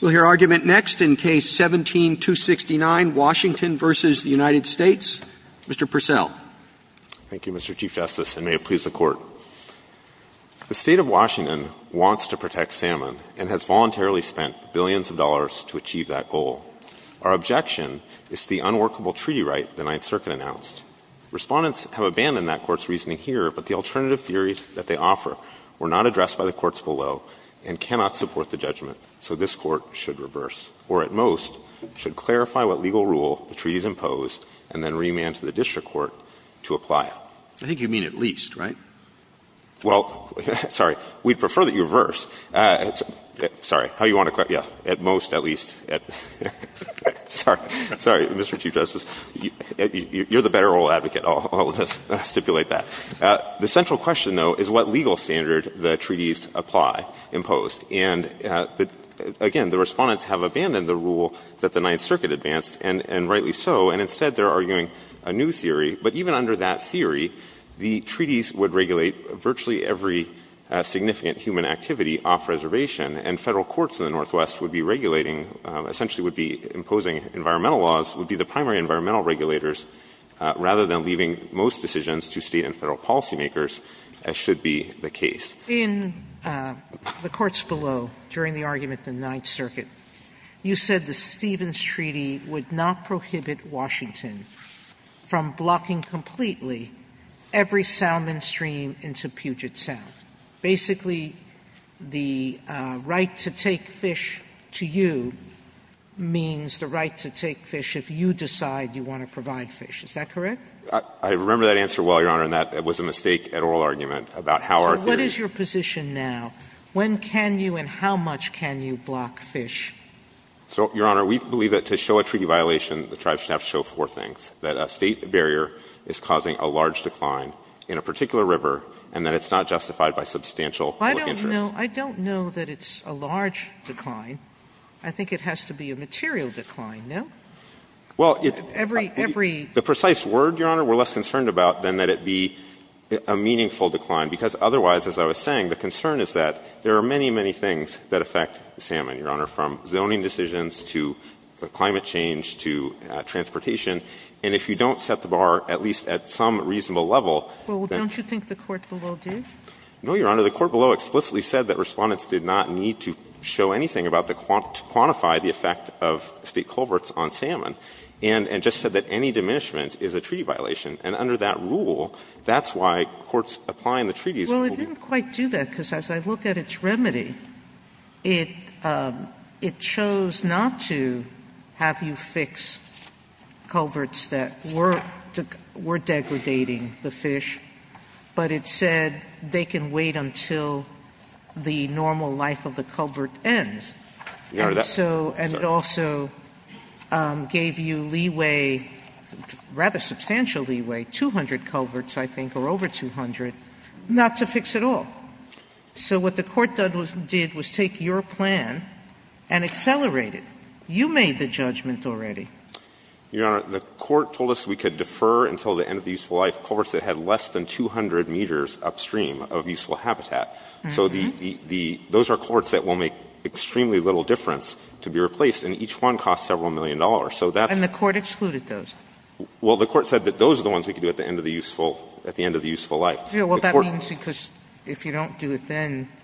We'll hear argument next in Case 17-269, Washington v. United States. Mr. Purcell. Thank you, Mr. Chief Justice, and may it please the Court. The State of Washington wants to protect Salmon and has voluntarily spent billions of dollars to achieve that goal. Our objection is the unworkable treaty right the Ninth Circuit announced. Respondents have abandoned that Court's reasoning here, but the alternative theories that they offer were not addressed by the courts below and cannot support the judgment, so this Court should reverse, or at most, should clarify what legal rule the treaty has imposed and then remand to the district court to apply it. I think you mean at least, right? Well, sorry, we'd prefer that you reverse. Sorry, how do you want to clarify? Yeah, at most, at least. Sorry. Sorry, Mr. Chief Justice. You're the better oral advocate. I'll stipulate that. The central question, though, is what legal standard the treaties apply, impose. And again, the Respondents have abandoned the rule that the Ninth Circuit advanced, and rightly so. And instead, they're arguing a new theory. But even under that theory, the treaties would regulate virtually every significant human activity off reservation, and Federal courts in the Northwest would be regulating, essentially would be imposing environmental laws, would be the primary environmental regulators, rather than leaving most decisions to State and Federal policymakers, as should be the case. In the courts below, during the argument in the Ninth Circuit, you said the Stevens Treaty would not prohibit Washington from blocking completely every salmon stream into Puget Sound. Basically, the right to take fish to you means the right to take fish. Is that correct? I remember that answer well, Your Honor, and that was a mistake at oral argument about how our theory — So what is your position now? When can you and how much can you block fish? So, Your Honor, we believe that to show a treaty violation, the tribes should have to show four things, that a State barrier is causing a large decline in a particular river, and that it's not justified by substantial public interest. I don't know. I don't know that it's a large decline. I think it has to be a material decline, no? Well, it — Every — every — The precise word, Your Honor, we're less concerned about than that it be a meaningful decline, because otherwise, as I was saying, the concern is that there are many, many things that affect salmon, Your Honor, from zoning decisions to climate change to transportation. And if you don't set the bar at least at some reasonable level — Well, don't you think the court below did? No, Your Honor. The court below explicitly said that Respondents did not need to show And just said that any diminishment is a treaty violation. And under that rule, that's why courts applying the treaties will be — Well, it didn't quite do that, because as I look at its remedy, it — it chose not to have you fix culverts that were — were degradating the fish, but it said they can wait until the normal life of the culvert ends. Your Honor, that — And so — Sorry. And also gave you leeway, rather substantial leeway, 200 culverts, I think, or over 200, not to fix at all. So what the court did was take your plan and accelerate it. You made the judgment already. Your Honor, the court told us we could defer until the end of the useful life culverts that had less than 200 meters upstream of useful habitat. Mm-hmm. So the — the — those are culverts that will make extremely little difference to be replaced, and each one costs several million dollars. So that's — And the court excluded those. Well, the court said that those are the ones we could do at the end of the useful — at the end of the useful life. Well, that means because if you don't do it then —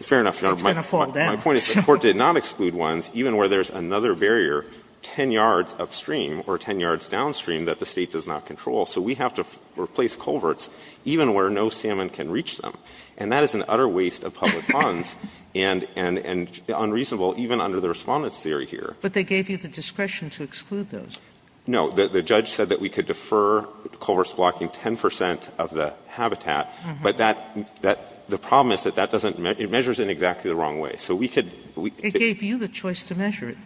Fair enough, Your Honor. — it's going to fall down. My point is the court did not exclude ones even where there's another barrier 10 yards upstream or 10 yards downstream that the State does not control. But they gave you the discretion to exclude those. No. The judge said that we could defer culverts blocking 10 percent of the habitat. Mm-hmm. But that — that — the problem is that that doesn't — it measures in exactly the wrong way. So we could — we — It gave you the choice to measure it.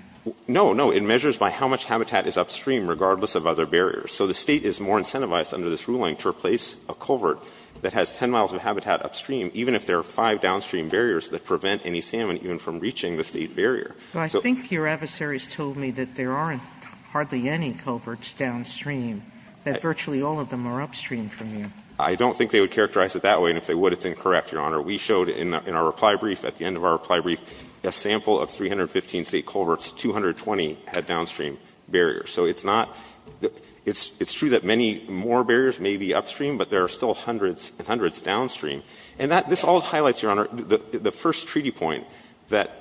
No, no. It measures by how much habitat is upstream regardless of other barriers. So the State is more incentivized under this ruling to replace a culvert that has 10 miles of habitat upstream even if there are five downstream barriers that prevent any salmon even from reaching the State barrier. Well, I think your adversaries told me that there aren't hardly any culverts downstream, that virtually all of them are upstream from you. I don't think they would characterize it that way. And if they would, it's incorrect, Your Honor. We showed in our reply brief, at the end of our reply brief, a sample of 315 State culverts, 220 had downstream barriers. So it's not — it's true that many more barriers may be upstream, but there are still hundreds and hundreds downstream. And that — this all highlights, Your Honor, the first treaty point, that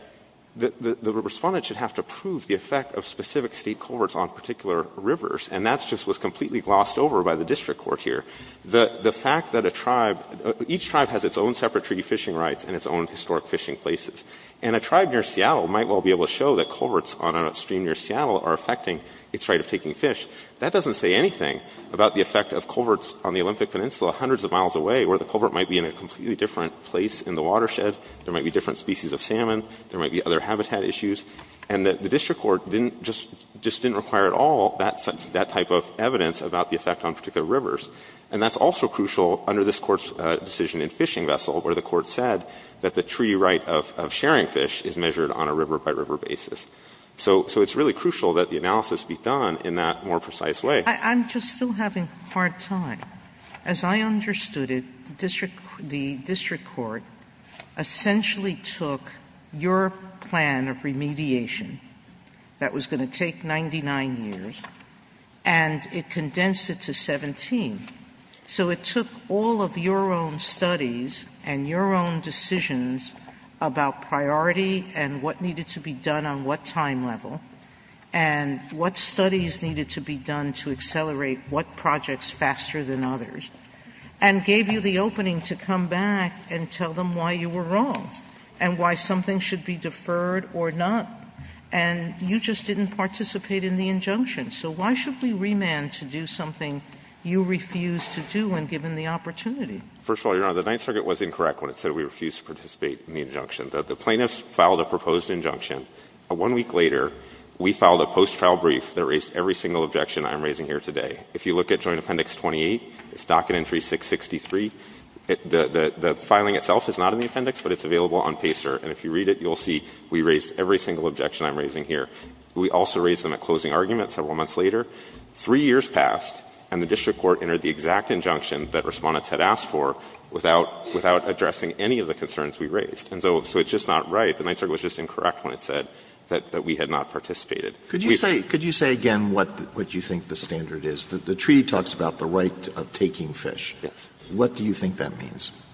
the Respondent should have to prove the effect of specific State culverts on particular rivers. And that just was completely glossed over by the district court here. The fact that a tribe — each tribe has its own separate treaty fishing rights and its own historic fishing places. And a tribe near Seattle might well be able to show that culverts on an upstream near Seattle are affecting its right of taking fish. That doesn't say anything about the effect of culverts on the Olympic Peninsula hundreds of miles away, where the culvert might be in a completely different place in the watershed. There might be different species of salmon. There might be other habitat issues. And that the district court didn't — just didn't require at all that type of evidence about the effect on particular rivers. And that's also crucial under this Court's decision in Fishing Vessel, where the Court said that the treaty right of sharing fish is measured on a river-by-river basis. So it's really crucial that the analysis be done in that more precise way. JUSTICE SOTOMAYOR I'm just still having a hard time. As I understood it, the district court essentially took your plan of remediation that was going to take 99 years, and it condensed it to 17. So it took all of your own studies and your own decisions about priority and what studies needed to be done to accelerate what projects faster than others, and gave you the opening to come back and tell them why you were wrong and why something should be deferred or not. And you just didn't participate in the injunction. So why should we remand to do something you refused to do when given the opportunity? MR. CLEMENT First of all, Your Honor, the Ninth Circuit was incorrect when it said we refused to participate in the injunction. The plaintiffs filed a proposed injunction. One week later, we filed a post-trial brief that raised every single objection I'm raising here today. If you look at Joint Appendix 28, its docket entry 663, the filing itself is not in the appendix, but it's available on PACER. And if you read it, you'll see we raised every single objection I'm raising here. We also raised them at closing argument several months later. Three years passed, and the district court entered the exact injunction that respondents had asked for without addressing any of the concerns we raised. And so it's just not right. The Ninth Circuit was just incorrect when it said that we had not participated. Alitoson Could you say again what you think the standard is? The treaty talks about the right of taking fish. What do you think that means? MR. CLEMENT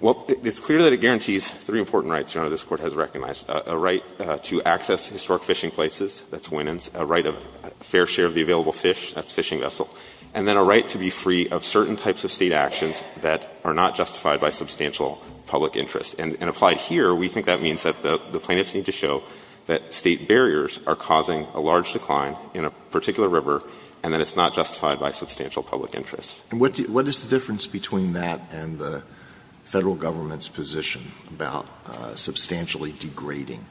Well, it's clear that it guarantees three important rights, Your Honor, this Court has recognized. A right to access historic fishing places, that's winnings. A right of fair share of the available fish, that's fishing vessel. And then a right to be free of certain types of State actions that are not justified by substantial public interest. And applied here, we think that means that the plaintiffs need to show that State barriers are causing a large decline in a particular river and that it's not justified by substantial public interest. Alitoson And what is the difference between that and the Federal Government's position about substantially degrading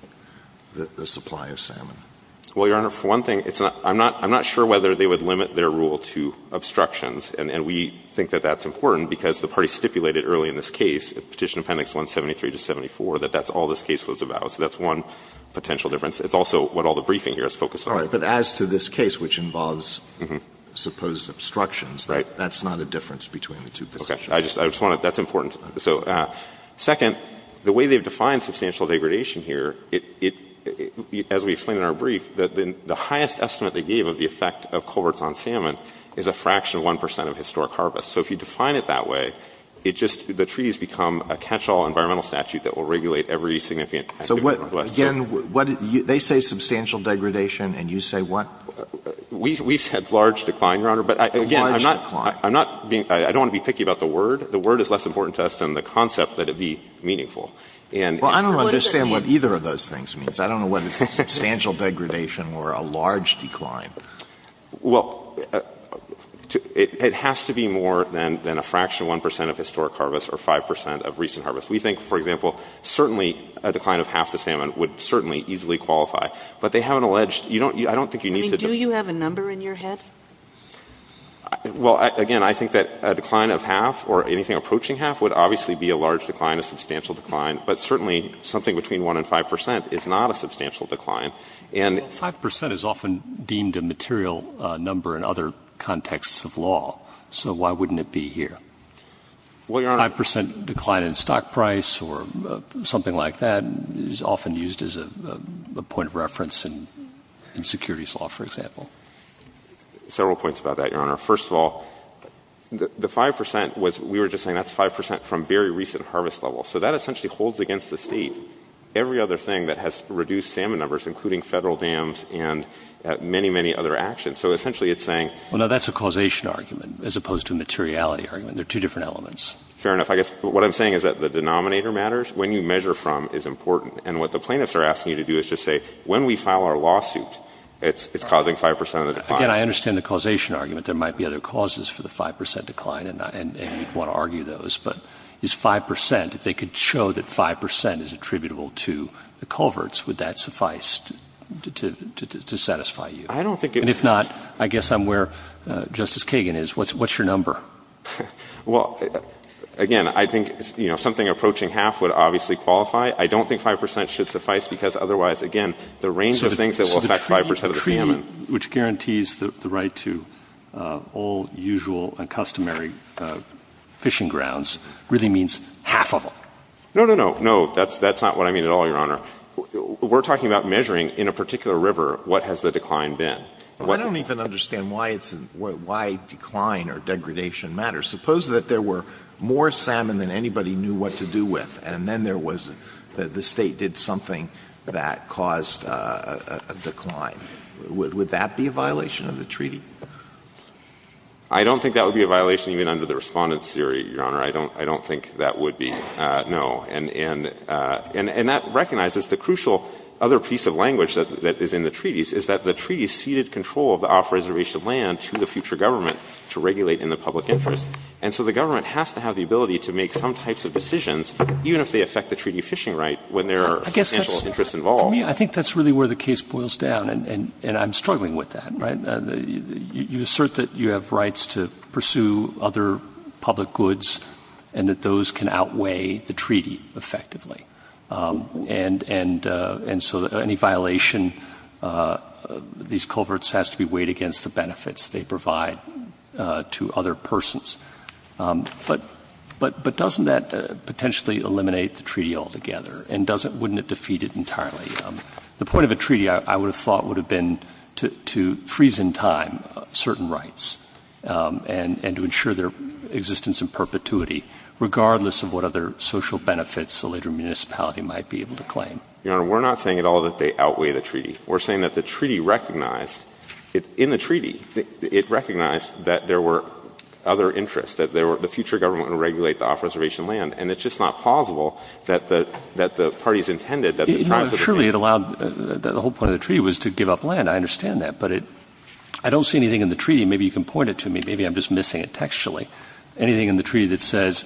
the supply of salmon? MR. CLEMENT Well, Your Honor, for one thing, I'm not sure whether they would limit their rule to obstructions. And we think that that's important because the parties stipulated early in this case, Petition Appendix 173 to 74, that that's all this case was about. So that's one potential difference. It's also what all the briefing here is focused on. Alitoson All right. But as to this case, which involves supposed obstructions, that's not a difference between the two positions. MR. CLEMENT Okay. I just want to – that's important. So second, the way they've defined substantial degradation here, as we explained in our brief, that the highest estimate they gave of the effect of culverts on salmon is a fraction of 1 percent of historic harvest. So if you define it that way, it just – the treaty has become a catch-all environmental statute that will regulate every significant – Alitoson So what – again, what – they say substantial degradation and you say what? MR. CLEMENT We've said large decline, Your Honor. Alitoson A large decline. MR. CLEMENT I'm not being – I don't want to be picky about the word. The word is less important to us than the concept that it be meaningful. And – Alitoson Well, I don't understand what either of those things means. I don't know whether it's substantial degradation or a large decline. MR. CLEMENT I think it's more than a fraction, 1 percent of historic harvest or 5 percent of recent harvest. We think, for example, certainly a decline of half the salmon would certainly easily qualify. But they haven't alleged – you don't – I don't think you need to – MS. SOTOMAYOR I mean, do you have a number in your head? MR. CLEMENT Well, again, I think that a decline of half or anything approaching half would obviously be a large decline, a substantial decline. But certainly, something between 1 and 5 percent is not a substantial decline. And – MR. GOTTLIEB 5 percent is often deemed a material number in other contexts of law. So why wouldn't it be here? MR. GOTTLIEB 5 percent decline in stock price or something like that is often used as a point of reference in securities law, for example. MR. CLEMENT Several points about that, Your Honor. First of all, the 5 percent was – we were just saying that's 5 percent from very recent harvest level. So that essentially holds against the State every other thing that has reduced salmon numbers, including Federal dams and many, many other actions. So essentially, it's saying – MR. GOTTLIEB As opposed to a materiality argument. They're two different elements. MR. CLEMENT Fair enough. I guess what I'm saying is that the denominator matters. When you measure from is important. And what the plaintiffs are asking you to do is just say when we file our lawsuit, it's causing 5 percent of the decline. MR. GOTTLIEB Again, I understand the causation argument. There might be other causes for the 5 percent decline, and we'd want to argue those. But this 5 percent, if they could show that 5 percent is attributable to the culverts, would that suffice to satisfy you? MR. CLEMENT I don't think it would. MR. GOTTLIEB What's your number? CLEMENT Well, again, I think, you know, something approaching half would obviously qualify. I don't think 5 percent should suffice, because otherwise, again, the range of things that will affect 5 percent of the salmon. MR. GOTTLIEB So the treaty which guarantees the right to all usual and customary fishing grounds really means half of them? MR. CLEMENT No, no, no. No, that's not what I mean at all, Your Honor. We're talking about measuring in a particular river what has the decline been. Alito I don't even understand why decline or degradation matters. Suppose that there were more salmon than anybody knew what to do with, and then there was the State did something that caused a decline. Would that be a violation of the treaty? MR. CLEMENT I don't think that would be a violation even under the Respondent's theory, Your Honor. I don't think that would be, no. And that recognizes the crucial other piece of language that is in the treaties is that the treaty ceded control of the off-reservation land to the future government to regulate in the public interest. And so the government has to have the ability to make some types of decisions, even if they affect the treaty fishing right when there are substantial interests involved. MR. GOTTLIEB For me, I think that's really where the case boils down, and I'm struggling with that, right? You assert that you have rights to pursue other public goods and that those can outweigh the treaty effectively. And so any violation of these culverts has to be weighed against the benefits they provide to other persons. But doesn't that potentially eliminate the treaty altogether? And wouldn't it defeat it entirely? The point of a treaty, I would have thought, would have been to freeze in time certain rights and to ensure their existence in perpetuity, regardless of what other social benefits the later municipality might be able to claim. GOTTLIEB Your Honor, we're not saying at all that they outweigh the treaty. We're saying that the treaty recognized — in the treaty, it recognized that there were other interests, that the future government would regulate the off-reservation land. And it's just not plausible that the parties intended that the triumph of the treaty — MR. BOUTROUS No, surely it allowed — the whole point of the treaty was to give up land. I understand that. But I don't see anything in the treaty — maybe you can point it to me. Maybe I'm just missing it textually. Anything in the treaty that says,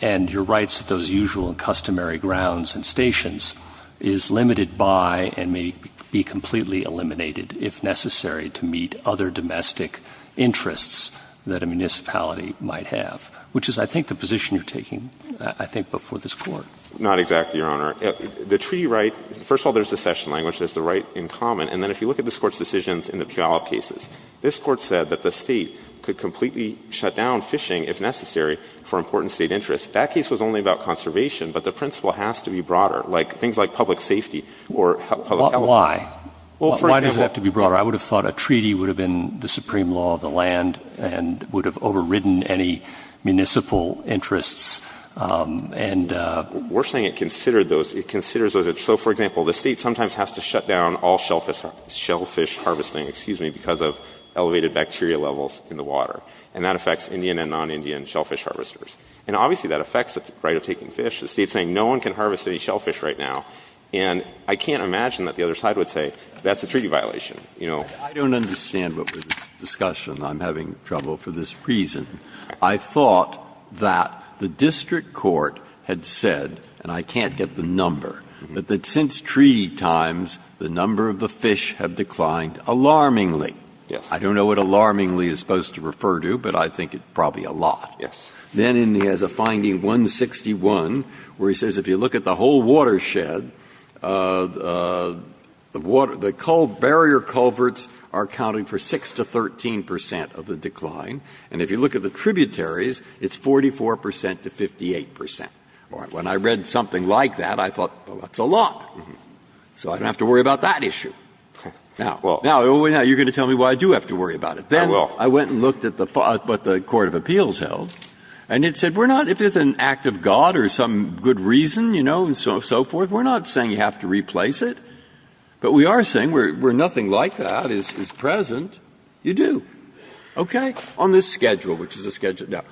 and your rights at those usual and customary grounds and stations is limited by and may be completely eliminated if necessary to meet other domestic interests that a municipality might have, which is, I think, the position you're taking, I think, before this Court. GOTTLIEB Not exactly, Your Honor. The treaty right — first of all, there's the cession language. There's the right in common. And then if you look at this Court's decisions in the Puyallup cases, this Court said that the State could completely shut down fishing, if necessary, for important State interests. That case was only about conservation. But the principle has to be broader, like things like public safety or public health. MR. BOUTROUS Why? Why does it have to be broader? I would have thought a treaty would have been the supreme law of the land and would have overridden any municipal interests. And — MR. BOUTROUS Worse thing, it considered those — it considers those — so, for example, the State sometimes has to shut down all shellfish harvesting, excuse me, because of elevated bacteria levels in the water. And that affects Indian and non-Indian shellfish harvesters. And obviously, that affects the right of taking fish. The State's saying no one can harvest any shellfish right now. And I can't imagine that the other side would say that's a treaty violation, you know. Breyer. I don't understand what was the discussion. I'm having trouble for this reason. I thought that the district court had said — and I can't get the number — that since treaty times, the number of the fish have declined alarmingly. GOTTLIEB Yes. BREYER I don't know what alarmingly is supposed to refer to, but I think it's probably GOTTLIEB Yes. BREYER Then he has a finding 161 where he says if you look at the whole watershed, the water — the barrier culverts are counting for 6 to 13 percent of the decline. And if you look at the tributaries, it's 44 percent to 58 percent. When I read something like that, I thought, well, that's a lot. So I don't have to worry about that issue. Now, you're going to tell me why I do have to worry about it. GOTTLIEB I will. BREYER Then I went and looked at what the court of appeals held, and it said we're not — if it's an act of God or some good reason, you know, and so forth, we're not saying you have to replace it. But we are saying where nothing like that is present, you do. Okay? On this schedule, which is a schedule — now,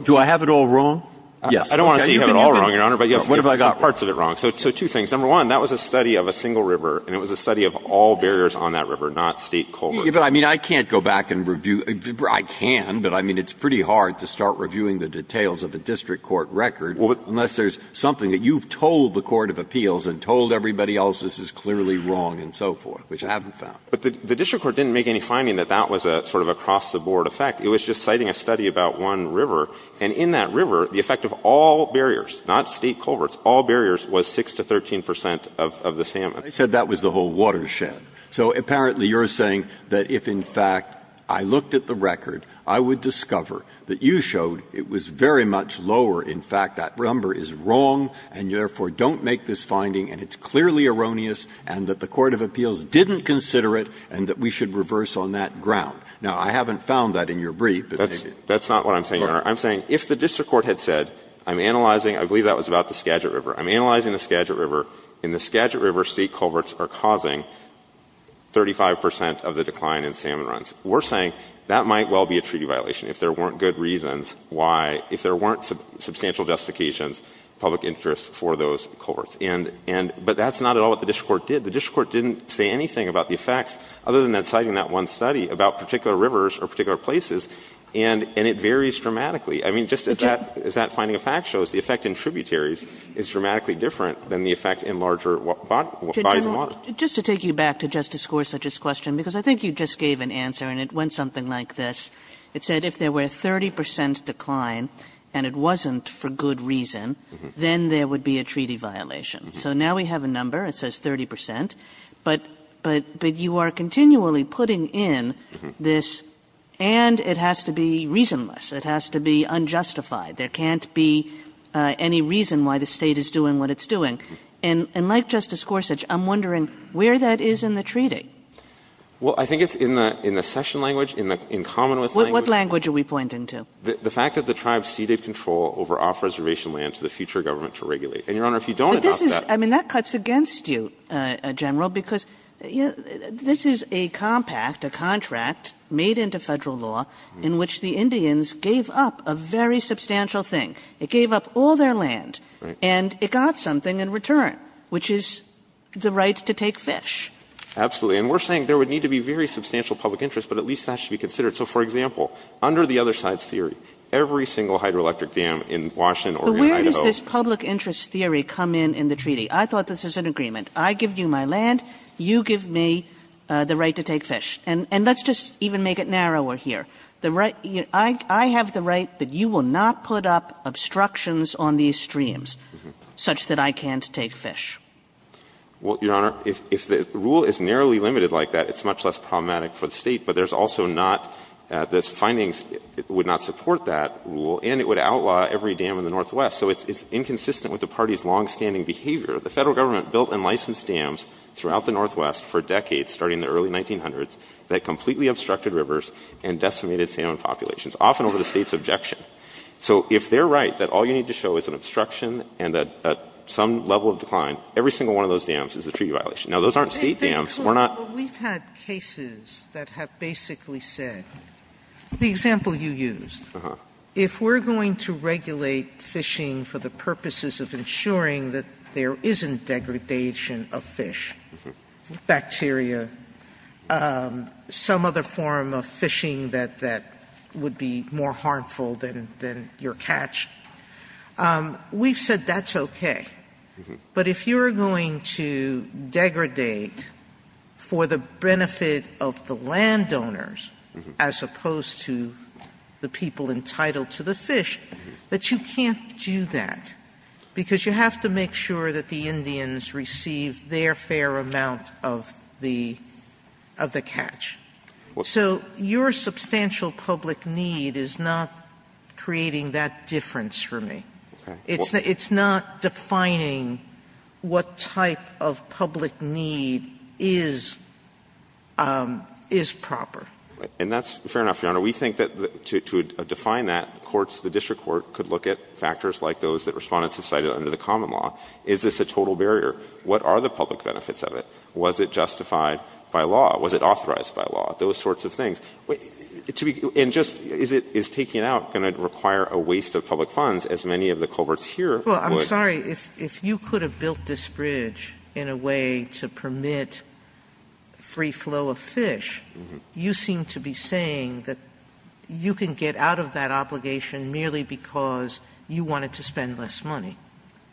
do I have it all wrong? Yes. GOTTLIEB I don't want to say you have it all wrong, Your Honor, but you have parts of it wrong. Because, number one, that was a study of a single river, and it was a study of all barriers on that river, not state culverts. BREYER But, I mean, I can't go back and review — I can, but, I mean, it's pretty hard to start reviewing the details of a district court record unless there's something that you've told the court of appeals and told everybody else this is clearly wrong and so forth, which I haven't found. GOTTLIEB But the district court didn't make any finding that that was a sort of across-the-board effect. It was just citing a study about one river, and in that river, the effect of all barriers, not state culverts, all barriers, was 6 to 13 percent of the salmon. BREYER I said that was the whole watershed. So, apparently, you're saying that if, in fact, I looked at the record, I would discover that you showed it was very much lower. In fact, that number is wrong, and you, therefore, don't make this finding, and it's clearly erroneous, and that the court of appeals didn't consider it, and that we should reverse on that ground. Now, I haven't found that in your brief. GOTTLIEB That's not what I'm saying, Your Honor. I'm saying if the district court had said, I'm analyzing, I believe that was about the Skagit River. I'm analyzing the Skagit River, and the Skagit River state culverts are causing 35 percent of the decline in salmon runs. We're saying that might well be a treaty violation, if there weren't good reasons why, if there weren't substantial justifications, public interest for those culverts. But that's not at all what the district court did. The district court didn't say anything about the effects, other than that citing that particular rivers or particular places. And it varies dramatically. I mean, just as that finding of facts shows, the effect in tributaries is dramatically different than the effect in larger bodies of water. Kagan. Kagan. Kagan. Kagan. Kagan. Kagan. Kagan. Kagan. Gottlieb I think you just gave an answer, and it went something like this. It said if there was a 30 percent decline and it wasn't for good reason, then there would be a treaty violation. So now we have a number, it says 30 percent, but you are continually putting in the tributaries. You are putting in this, and it has to be reasonless. It has to be unjustified. There can't be any reason why the State is doing what it's doing. And like Justice Gorsuch, I'm wondering where that is in the treaty. Well, I think it's in the session language, in common with language. What language are we pointing to? The fact that the tribes ceded control over off-reservation land to the future government to regulate. And, Your Honor, if you don't adopt that But this is, I mean, that cuts against you, General, because this is a compact, a contract made into Federal law in which the Indians gave up a very substantial thing. It gave up all their land, and it got something in return, which is the right to take fish. Absolutely. And we're saying there would need to be very substantial public interest, but at least that should be considered. So, for example, under the other side's theory, every single hydroelectric dam in Washington or in Idaho. But where does this public interest theory come in in the treaty? I thought this was an agreement. I give you my land. You give me the right to take fish. And let's just even make it narrower here. The right, I have the right that you will not put up obstructions on these streams such that I can't take fish. Well, Your Honor, if the rule is narrowly limited like that, it's much less problematic for the State. But there's also not, this finding would not support that rule, and it would outlaw every dam in the Northwest. So it's inconsistent with the party's longstanding behavior. The Federal Government built and licensed dams throughout the Northwest for decades starting in the early 1900s that completely obstructed rivers and decimated salmon populations, often over the State's objection. So if they're right that all you need to show is an obstruction and some level of decline, every single one of those dams is a treaty violation. Now, those aren't State dams. We're not. Sotomayor, we've had cases that have basically said, the example you used, if we're going to regulate fishing for the purposes of ensuring that there isn't degradation of fish, bacteria, some other form of fishing that would be more harmful than your catch, we've said that's okay. But if you're going to degradate for the benefit of the landowners as opposed to the people entitled to the fish, that you can't do that, because you have to make sure that the Indians receive their fair amount of the catch. So your substantial public need is not creating that difference for me. It's not defining what type of public need is proper. And that's fair enough, Your Honor. We think that to define that, courts, the district court could look at factors like those that Respondents have cited under the common law. Is this a total barrier? What are the public benefits of it? Was it justified by law? Was it authorized by law? Those sorts of things. And just is taking it out going to require a waste of public funds, as many of the culverts here would? Sotomayor, if you could have built this bridge in a way to permit free flow of fish, you seem to be saying that you can get out of that obligation merely because you wanted to spend less money.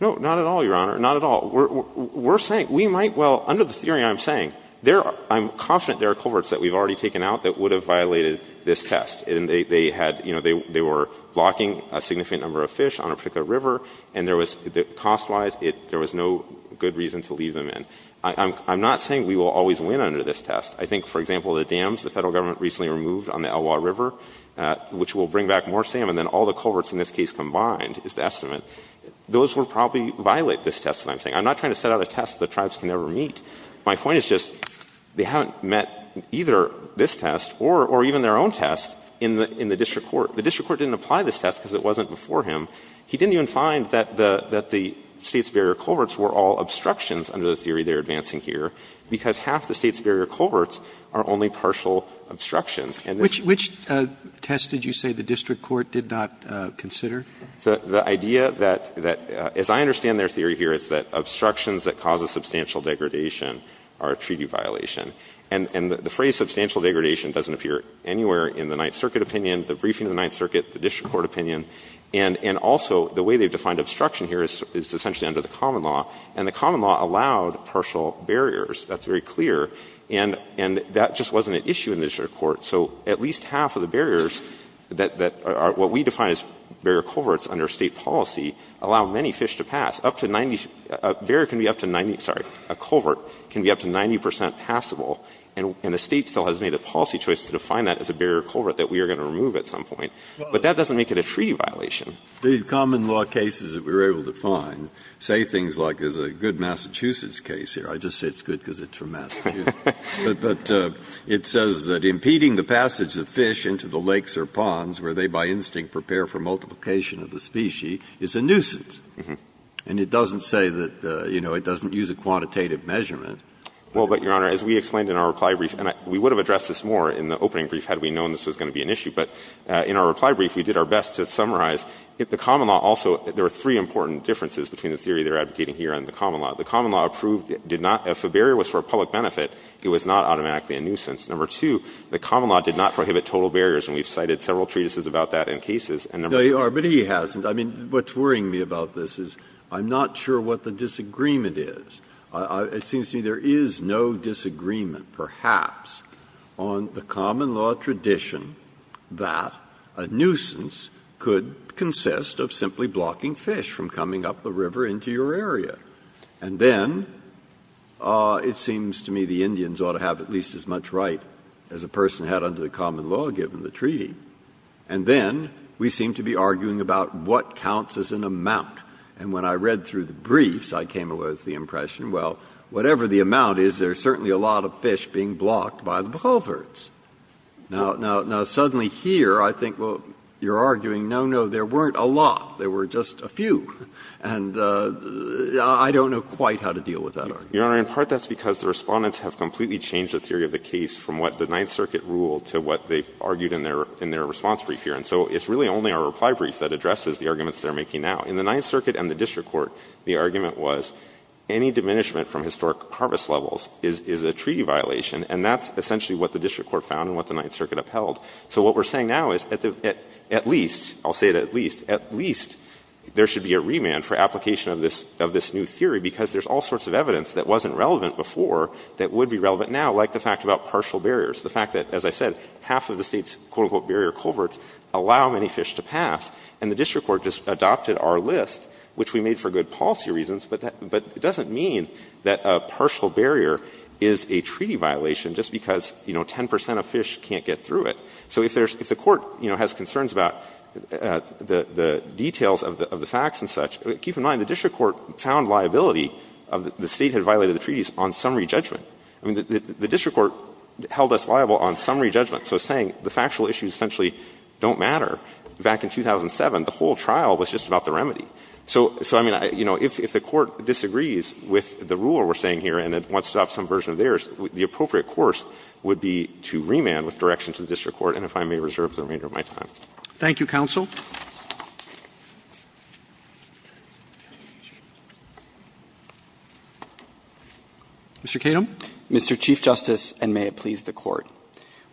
No, not at all, Your Honor. Not at all. We're saying we might well, under the theory I'm saying, I'm confident there are culverts that we've already taken out that would have violated this test. And they had, you know, they were blocking a significant number of fish on a particular river, and there was, cost-wise, there was no good reason to leave them in. I'm not saying we will always win under this test. I think, for example, the dams the Federal Government recently removed on the Elwha River, which will bring back more salmon than all the culverts in this case combined, is the estimate. Those would probably violate this test that I'm saying. I'm not trying to set out a test the tribes can never meet. My point is just they haven't met either this test or even their own test in the district court. The district court didn't apply this test because it wasn't before him. He didn't even find that the State's barrier culverts were all obstructions under the theory they're advancing here, because half the State's barrier culverts are only partial obstructions. And this is the case. Roberts, which test did you say the district court did not consider? The idea that, as I understand their theory here, is that obstructions that cause a substantial degradation are a treaty violation. And the phrase substantial degradation doesn't appear anywhere in the Ninth Circuit opinion, the briefing of the Ninth Circuit, the district court opinion. And also, the way they've defined obstruction here is essentially under the common law, and the common law allowed partial barriers. That's very clear. And that just wasn't an issue in the district court. So at least half of the barriers that are what we define as barrier culverts under State policy allow many fish to pass. Up to 90 — a barrier can be up to 90 — sorry, a culvert can be up to 90 percent passable, and the State still has made a policy choice to define that as a barrier culvert that we are going to remove at some point. But that doesn't make it a treaty violation. Breyer. The common law cases that we were able to find say things like there's a good Massachusetts case here. I just say it's good because it's from Massachusetts. But it says that impeding the passage of fish into the lakes or ponds where they by instinct prepare for multiplication of the species is a nuisance. And it doesn't say that, you know, it doesn't use a quantitative measurement. Well, but, Your Honor, as we explained in our reply brief, and we would have addressed this more in the opening brief had we known this was going to be an issue, but in our best to summarize, the common law also — there are three important differences between the theory they're advocating here and the common law. The common law proved it did not — if a barrier was for public benefit, it was not automatically a nuisance. Number two, the common law did not prohibit total barriers, and we've cited several treatises about that in cases. And number three — Breyer. No, Your Honor, but he hasn't. I mean, what's worrying me about this is I'm not sure what the disagreement is. It seems to me there is no disagreement, perhaps, on the common law tradition that a nuisance could consist of simply blocking fish from coming up the river into your area. And then it seems to me the Indians ought to have at least as much right as a person had under the common law, given the treaty. And then we seem to be arguing about what counts as an amount. And when I read through the briefs, I came away with the impression, well, whatever the amount is, there's certainly a lot of fish being blocked by the culverts. Now, suddenly here, I think, well, you're arguing, no, no, there weren't a lot, there were just a few. And I don't know quite how to deal with that argument. Your Honor, in part that's because the Respondents have completely changed the theory of the case from what the Ninth Circuit ruled to what they've argued in their response brief here. And so it's really only our reply brief that addresses the arguments they're making now. In the Ninth Circuit and the district court, the argument was any diminishment from historic harvest levels is a treaty violation, and that's essentially what the district court found and what the Ninth Circuit upheld. So what we're saying now is at least, I'll say it at least, at least there should be a remand for application of this new theory, because there's all sorts of evidence that wasn't relevant before that would be relevant now, like the fact about partial barriers, the fact that, as I said, half of the state's, quote, unquote, barrier culverts allow many fish to pass. And the district court just adopted our list, which we made for good policy reasons, but it doesn't mean that a partial barrier is a treaty violation just because, you know, 50 percent of fish can't get through it. So if there's — if the court, you know, has concerns about the details of the facts and such, keep in mind the district court found liability of the state had violated the treaties on summary judgment. I mean, the district court held us liable on summary judgment. So it's saying the factual issues essentially don't matter. Back in 2007, the whole trial was just about the remedy. So, I mean, you know, if the court disagrees with the rule we're saying here and it wants to adopt some version of theirs, the appropriate course would be to remand with direction to the district court. And if I may reserve the remainder of my time. Roberts. Thank you, counsel. Mr. Kedem. Mr. Chief Justice, and may it please the Court.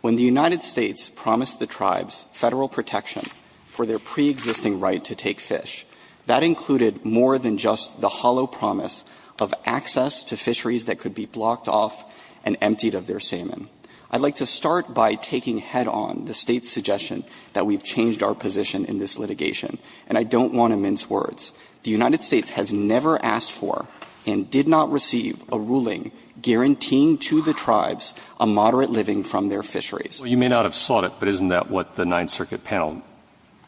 When the United States promised the tribes Federal protection for their preexisting right to take fish, that included more than just the hollow promise of access to fisheries that could be blocked off and emptied of their salmon. I'd like to start by taking head-on the State's suggestion that we've changed our position in this litigation. And I don't want to mince words. The United States has never asked for and did not receive a ruling guaranteeing to the tribes a moderate living from their fisheries. Well, you may not have sought it, but isn't that what the Ninth Circuit panel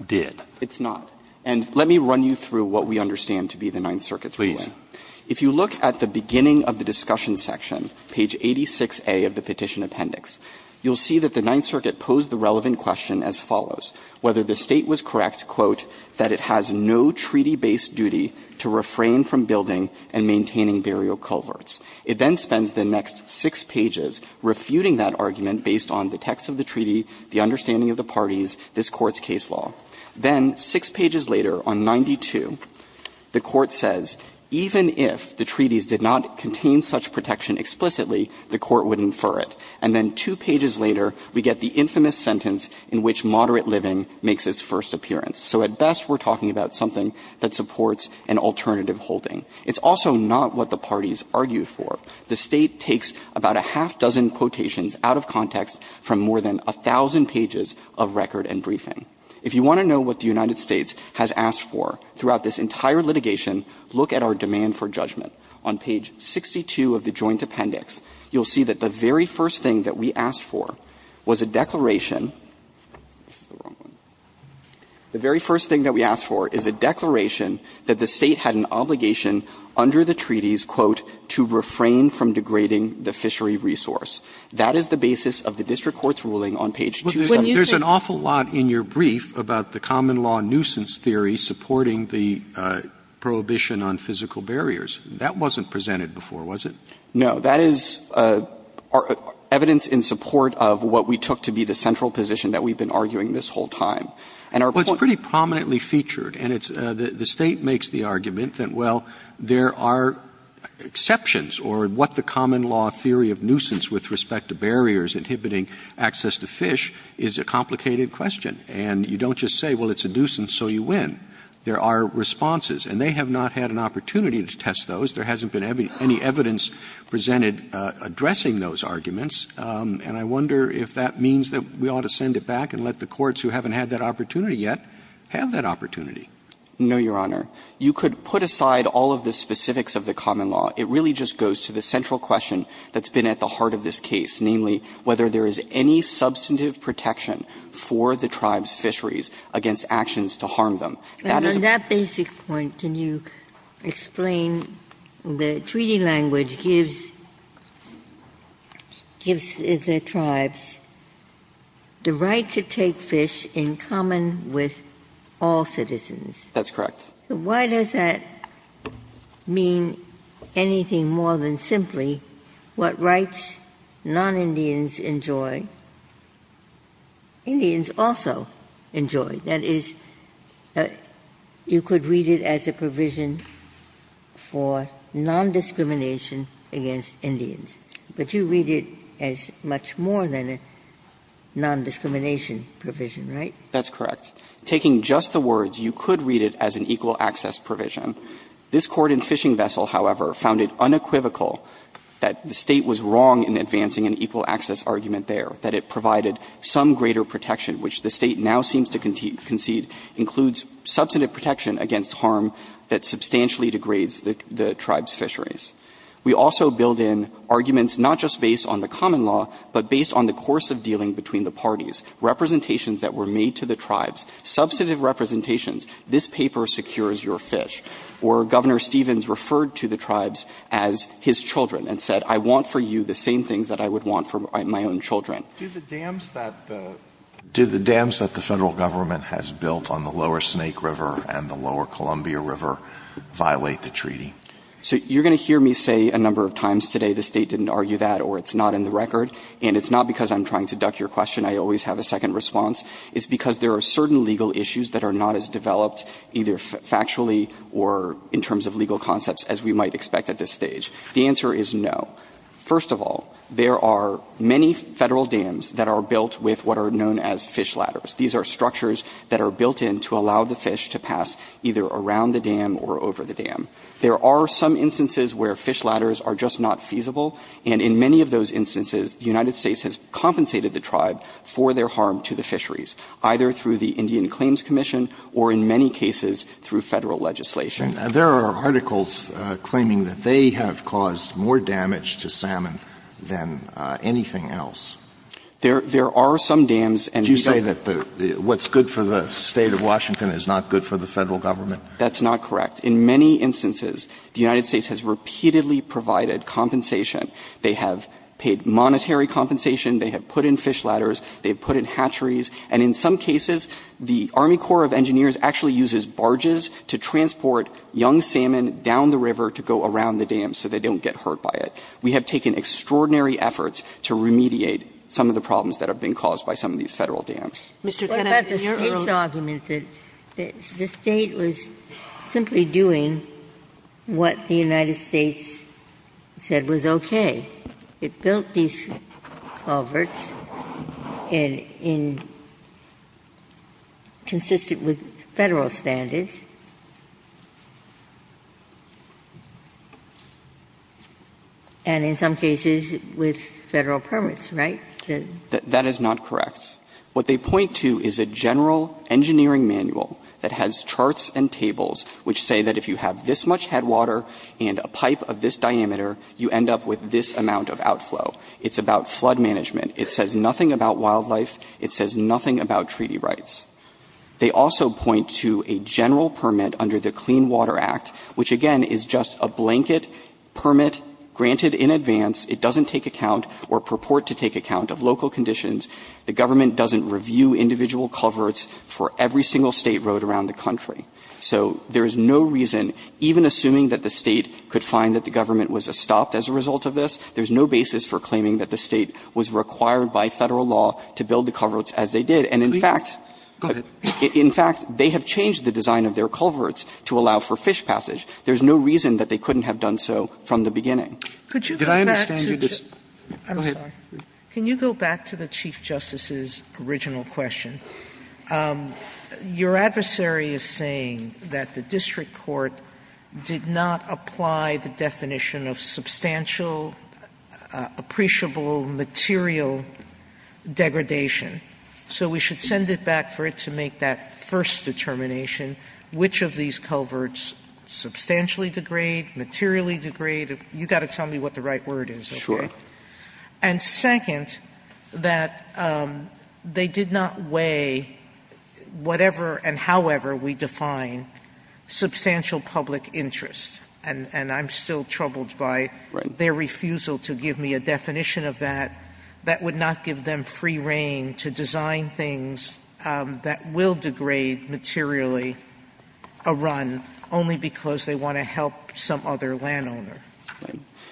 did? It's not. And let me run you through what we understand to be the Ninth Circuit's ruling. Please. If you look at the beginning of the discussion section, page 86A of the petition appendix, you'll see that the Ninth Circuit posed the relevant question as follows. Whether the State was correct, quote, that it has no treaty-based duty to refrain from building and maintaining burial culverts. It then spends the next six pages refuting that argument based on the text of the treaty, the understanding of the parties, this Court's case law. Then six pages later on 92, the Court says, even if the treaties did not contain such protection explicitly, the Court would infer it. And then two pages later, we get the infamous sentence in which moderate living makes its first appearance. So at best, we're talking about something that supports an alternative holding. It's also not what the parties argued for. The State takes about a half-dozen quotations out of context from more than a thousand pages of record and briefing. If you want to know what the United States has asked for throughout this entire litigation, look at our demand for judgment. On page 62 of the joint appendix, you'll see that the very first thing that we asked for was a declaration. The very first thing that we asked for is a declaration that the State had an obligation under the treaties, quote, to refrain from degrading the fishery resource. That is the basis of the district court's ruling on page 27. There's an awful lot in your brief about the common law nuisance theory supporting the prohibition on physical barriers. That wasn't presented before, was it? No. That is evidence in support of what we took to be the central position that we've been arguing this whole time. And our point is that the State makes the argument that, well, there are exceptions or what the common law theory of nuisance with respect to barriers inhibiting access to fish is a complicated question. And you don't just say, well, it's a nuisance, so you win. There are responses. And they have not had an opportunity to test those. There hasn't been any evidence presented addressing those arguments. And I wonder if that means that we ought to send it back and let the courts who haven't had that opportunity yet have that opportunity. No, Your Honor. You could put aside all of the specifics of the common law. It really just goes to the central question that's been at the heart of this case, namely whether there is any substantive protection for the tribe's fisheries against actions to harm them. That is a basic point. Ginsburg. And on that basic point, can you explain the treaty language gives the tribes the right to take fish in common with all citizens? That's correct. Why does that mean anything more than simply what rights non-Indians enjoy, Indians also enjoy? That is, you could read it as a provision for nondiscrimination against Indians. But you read it as much more than a nondiscrimination provision, right? That's correct. Taking just the words, you could read it as an equal access provision. This Court in Fishing Vessel, however, found it unequivocal that the State was wrong in advancing an equal access argument there, that it provided some greater protection which the State now seems to concede includes substantive protection against harm that substantially degrades the tribe's fisheries. We also build in arguments not just based on the common law, but based on the course of dealing between the parties, representations that were made to the tribes, substantive representations. This paper secures your fish. Or Governor Stevens referred to the tribes as his children and said, I want for you the same things that I would want for my own children. Do the dams that the Federal Government has built on the Lower Snake River and the Lower Columbia River violate the treaty? So you're going to hear me say a number of times today the State didn't argue that or it's not in the record. And it's not because I'm trying to duck your question. I always have a second response. It's because there are certain legal issues that are not as developed either factually or in terms of legal concepts as we might expect at this stage. The answer is no. First of all, there are many Federal dams that are built with what are known as fish ladders. These are structures that are built in to allow the fish to pass either around the dam or over the dam. There are some instances where fish ladders are just not feasible. And in many of those instances, the United States has compensated the tribe for their harm to the fisheries, either through the Indian Claims Commission or in many cases through Federal legislation. Alitoson There are articles claiming that they have caused more damage to salmon than anything else. There are some dams. Alitoson And you say that what's good for the State of Washington is not good for the Federal Government? That's not correct. In many instances, the United States has repeatedly provided compensation. They have paid monetary compensation. They have put in fish ladders. They have put in hatcheries. And in some cases, the Army Corps of Engineers actually uses barges to transport young salmon down the river to go around the dam so they don't get hurt by it. We have taken extraordinary efforts to remediate some of the problems that have been caused by some of these Federal dams. Ginsburg What about the State's argument that the State was simply doing what the United States said was okay? It built these culverts in the end, consistent with Federal standards, and in some cases with Federal permits, right? Alitoson That is not correct. The State of Washington does not have a general permit under the Clean Water Act. The State of Washington does not have a general permit under the Clean Water Act. What they point to is a general engineering manual that has charts and tables which say that if you have this much headwater and a pipe of this diameter, you end up with this amount of outflow. It's about flood management. It says nothing about wildlife. It says nothing about treaty rights. They also point to a general permit under the Clean Water Act which, again, is just a blanket permit granted in advance. It doesn't take account or purport to take account of local conditions. The government doesn't review individual culverts for every single State road around the country. So there is no reason, even assuming that the State could find that the government was stopped as a result of this, there is no basis for claiming that the State was required by Federal law to build the culverts as they did. And in fact, they have changed the design of their culverts to allow for fish passage. There is no reason that they couldn't have done so from the beginning. Sotomayor, could you go back to the Chief Justice's original question? Your adversary is saying that the district court did not apply the definition of substantial appreciable material degradation. So we should send it back for it to make that first determination, which of these culverts substantially degrade, materially degrade. You've got to tell me what the right word is. And second, that they did not weigh whatever and however we define substantial public interest. And I'm still troubled by their refusal to give me a definition of that. That would not give them free reign to design things that will degrade materially a run only because they want to help some other landowner.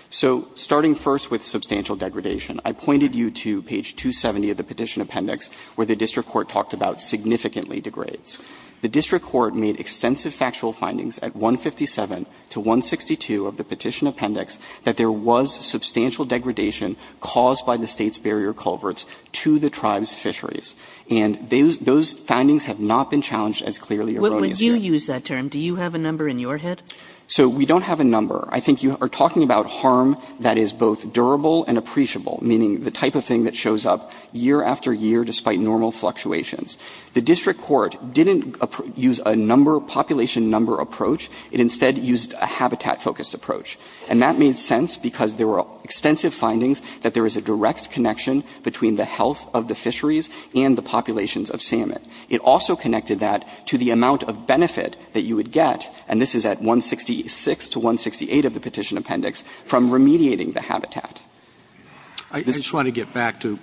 So starting first with substantial degradation, I pointed you to page 270 of the Petition Appendix where the district court talked about significantly degrades. The district court made extensive factual findings at 157 to 162 of the Petition Appendix that there was substantial degradation caused by the State's barrier culverts to the tribe's fisheries. And those findings have not been challenged as clearly or erroneously. Kagan What would you use that term? Do you have a number in your head? So we don't have a number. I think you are talking about harm that is both durable and appreciable, meaning the type of thing that shows up year after year despite normal fluctuations. The district court didn't use a number, population number approach. It instead used a habitat-focused approach. And that made sense because there were extensive findings that there is a direct connection between the health of the fisheries and the populations of salmon. It also connected that to the amount of benefit that you would get, and this is at 166 to 168 of the Petition Appendix, from remediating the habitat. Roberts I just want to get back to,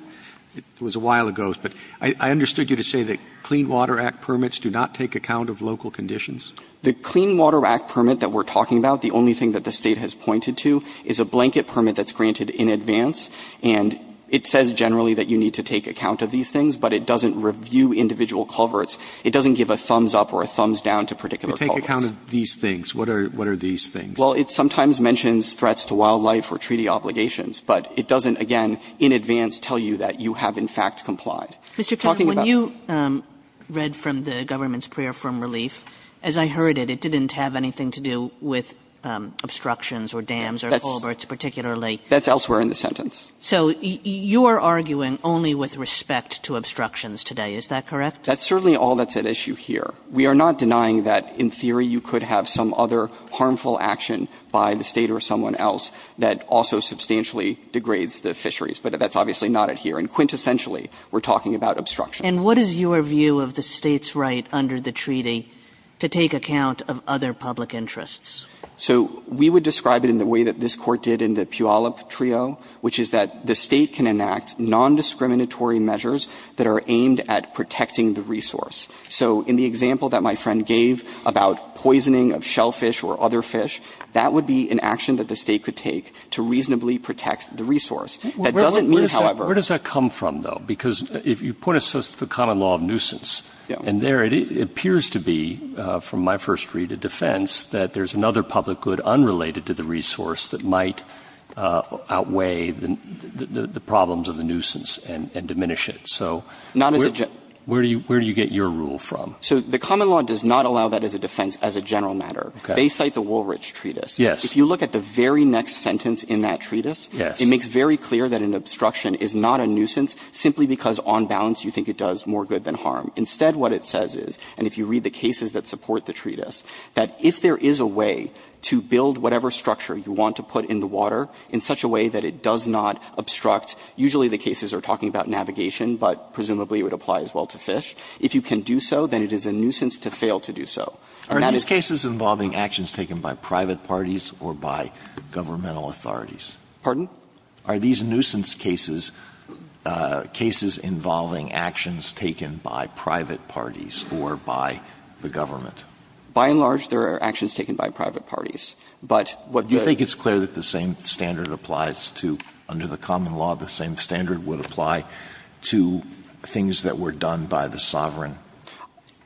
it was a while ago, but I understood you to say that Clean Water Act permits do not take account of local conditions? The Clean Water Act permit that we are talking about, the only thing that the State has pointed to, is a blanket permit that is granted in advance. And it says generally that you need to take account of these things, but it doesn't review individual culverts. It doesn't give a thumbs up or a thumbs down to particular culverts. But take account of these things. What are these things? Well, it sometimes mentions threats to wildlife or treaty obligations, but it doesn't, again, in advance tell you that you have in fact complied. Kagan Mr. Tuchman, when you read from the government's prayer for relief, as I heard it, it didn't have anything to do with obstructions or dams or culverts particularly. Tuchman That's elsewhere in the sentence. Kagan So you are arguing only with respect to obstructions today. Is that correct? Tuchman That's certainly all that's at issue here. We are not denying that in theory you could have some other harmful action by the State or someone else that also substantially degrades the fisheries. But that's obviously not it here. And quintessentially, we're talking about obstruction. Kagan And what is your view of the State's right under the treaty to take account of other public interests? Tuchman So we would describe it in the way that this Court did in the Puyallup trio, which is that the State can enact nondiscriminatory measures that are aimed at protecting the resource. So in the example that my friend gave about poisoning of shellfish or other fish, that would be an action that the State could take to reasonably protect the resource. That doesn't mean, however — Breyer Where does that come from, though? Because if you put it as the common law of nuisance, and there it appears to be, from my first read of defense, that there's another public good unrelated to the resource that might outweigh the problems of the nuisance and diminish it. So where do you get your rule from? Tuchman So the common law does not allow that as a defense as a general matter. They cite the Woolrich Treatise. Breyer Yes. Tuchman If you look at the very next sentence in that treatise, it makes very clear that an obstruction is not a nuisance simply because on balance you think it does more good than harm. Instead, what it says is, and if you read the cases that support the treatise, that if there is a way to build whatever structure you want to put in the water in such a way that it does not obstruct, usually the cases are talking about navigation, but presumably it would apply as well to fish. If you can do so, then it is a nuisance to fail to do so. And that is the reason why it's not a nuisance. Alito Are these cases involving actions taken by private parties or by governmental authorities? Tuchman Pardon? Alito Are these nuisance cases, cases involving actions taken by private parties or by the government? Tuchman By and large, there are actions taken by private parties. But what would Alito Do you think it's clear that the same standard applies to, under the common law, the same standard would apply to things that were done by the sovereign? Tuchman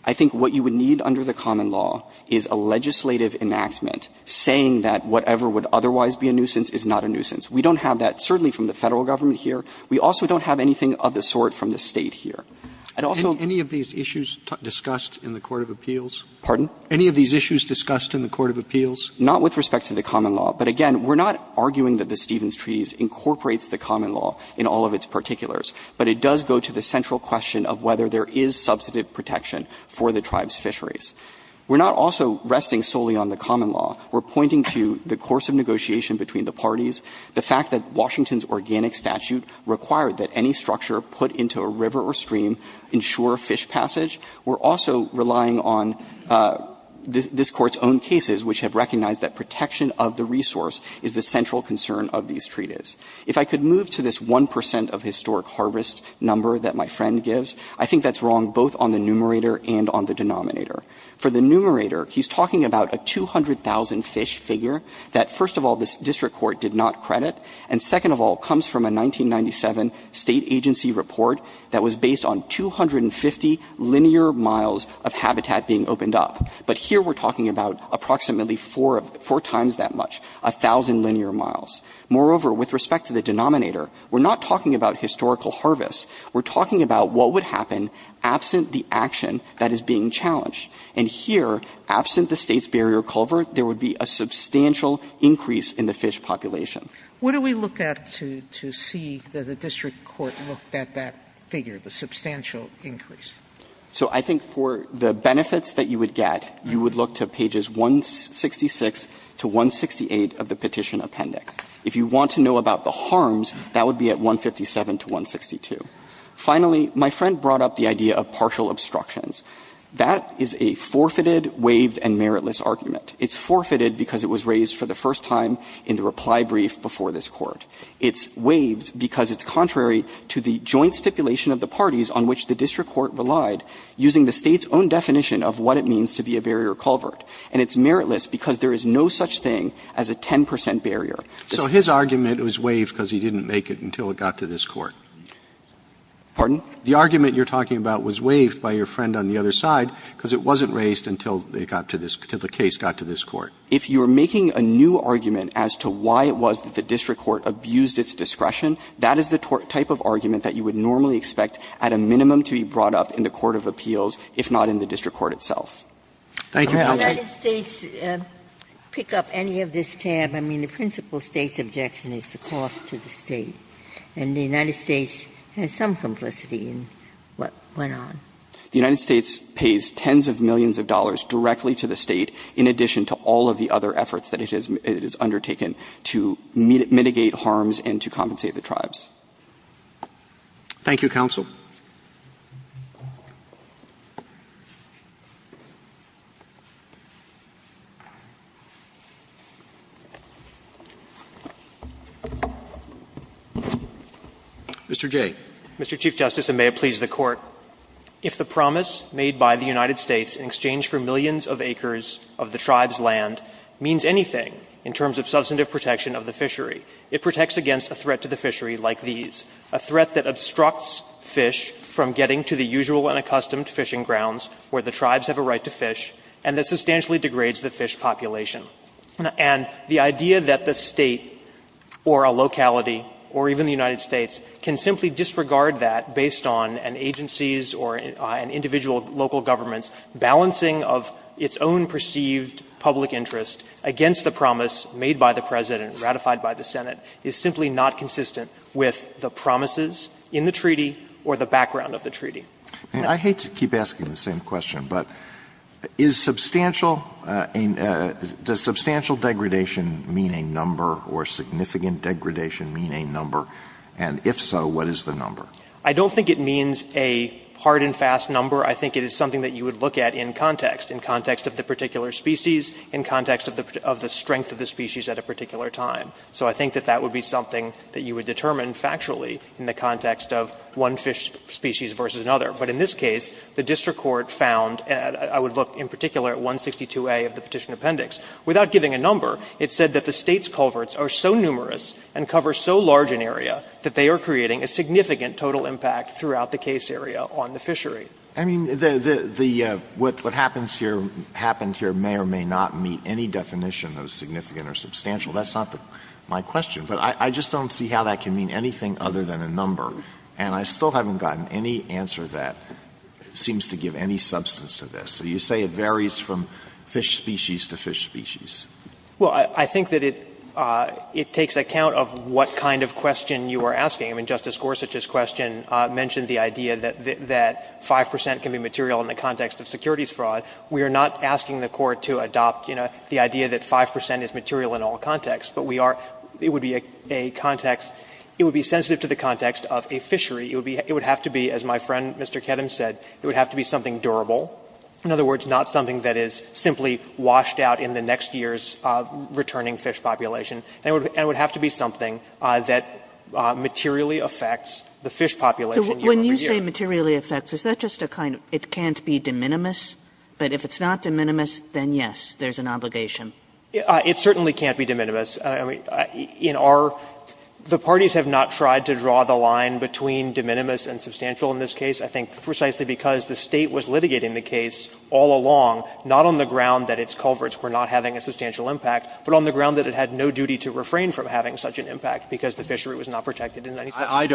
I think what you would need under the common law is a legislative enactment saying that whatever would otherwise be a nuisance is not a nuisance. We don't have that certainly from the Federal Government here. We also don't have anything of the sort from the State here. I'd also Alito Any of these issues discussed in the court of appeals? Tuchman Pardon? Alito Any of these issues discussed in the court of appeals? Tuchman Not with respect to the common law. But, again, we're not arguing that the Stevens Treaties incorporates the common law in all of its particulars, but it does go to the central question of whether there is substantive protection for the tribes' fisheries. We're not also resting solely on the common law. We're pointing to the course of negotiation between the parties, the fact that Washington's organic statute required that any structure put into a river or stream ensure fish passage. We're also relying on this Court's own cases, which have recognized that protection of the resource is the central concern of these treaties. If I could move to this 1 percent of historic harvest number that my friend gives, I think that's wrong both on the numerator and on the denominator. For the numerator, he's talking about a 200,000 fish figure that, first of all, this district court did not credit, and, second of all, comes from a 1997 State agency report that was based on 250 linear miles of habitat being opened up. But here we're talking about approximately 4 times that much, 1,000 linear miles. Moreover, with respect to the denominator, we're not talking about historical And here, absent the State's barrier culvert, there would be a substantial increase in the fish population. Sotomayor, what do we look at to see that the district court looked at that figure, the substantial increase? So I think for the benefits that you would get, you would look to pages 166 to 168 of the petition appendix. If you want to know about the harms, that would be at 157 to 162. Finally, my friend brought up the idea of partial obstructions. That is a forfeited, waived, and meritless argument. It's forfeited because it was raised for the first time in the reply brief before this Court. It's waived because it's contrary to the joint stipulation of the parties on which the district court relied, using the State's own definition of what it means to be a barrier culvert. And it's meritless because there is no such thing as a 10 percent barrier. So his argument was waived because he didn't make it until it got to this Court. Pardon? The argument you're talking about was waived by your friend on the other side because it wasn't raised until they got to this – until the case got to this Court. If you're making a new argument as to why it was that the district court abused its discretion, that is the type of argument that you would normally expect at a minimum to be brought up in the court of appeals, if not in the district court itself. Breyer, thank you for your answer. Ginsburg, did the United States pick up any of this tab? I mean, the principal State's objection is the cost to the State. And the United States has some simplicity in what went on. The United States pays tens of millions of dollars directly to the State in addition to all of the other efforts that it has undertaken to mitigate harms and to compensate Thank you, counsel. Mr. Jay. Mr. Chief Justice, and may it please the Court, if the promise made by the United States in exchange for millions of acres of the tribe's land means anything in terms of substantive protection of the fishery, it protects against a threat to the fishery like these, a threat that obstructs fish from getting to the usual and accustomed fishing grounds where the tribes have a right to fish and that substantially degrades the fish population. And the idea that the State or a locality or even the United States can simply disregard that based on an agency's or an individual local government's balancing of its own perceived public interest against the promise made by the President, ratified by the Senate, is simply not consistent with the promises in the treaty or the background of the treaty. And I hate to keep asking the same question, but is substantial — does substantial degradation mean a number or significant degradation mean a number? And if so, what is the number? I don't think it means a hard and fast number. I think it is something that you would look at in context, in context of the particular species, in context of the strength of the species at a particular time. So I think that that would be something that you would determine factually in the context of one fish species versus another. But in this case, the district court found — I would look in particular at 162a of the Petition Appendix. Without giving a number, it said that the State's culverts are so numerous and cover so large an area that they are creating a significant total impact throughout the case area on the fishery. I mean, the — what happens here may or may not meet any definition of significant or substantial. That's not my question. But I just don't see how that can mean anything other than a number. And I still haven't gotten any answer that seems to give any substance to this. So you say it varies from fish species to fish species. Well, I think that it takes account of what kind of question you are asking. I mean, Justice Gorsuch's question mentioned the idea that 5 percent can be material in the context of securities fraud. We are not asking the Court to adopt, you know, the idea that 5 percent is material in all contexts, but we are — it would be a context — it would be sensitive to the context of a fishery. It would be — it would have to be, as my friend Mr. Kedem said, it would have to be something durable. In other words, not something that is simply washed out in the next year's returning fish population. And it would have to be something that materially affects the fish population year over year. So when you say materially affects, is that just a kind of — it can't be de minimis? But if it's not de minimis, then yes, there's an obligation. It certainly can't be de minimis. I mean, in our — the parties have not tried to draw the line between de minimis and substantial in this case. I think precisely because the State was litigating the case all along, not on the ground that its culverts were not having a substantial impact, but on the ground that it had no duty to refrain from having such an impact because the fishery was not protected in any sense by the treaty. Breyer. I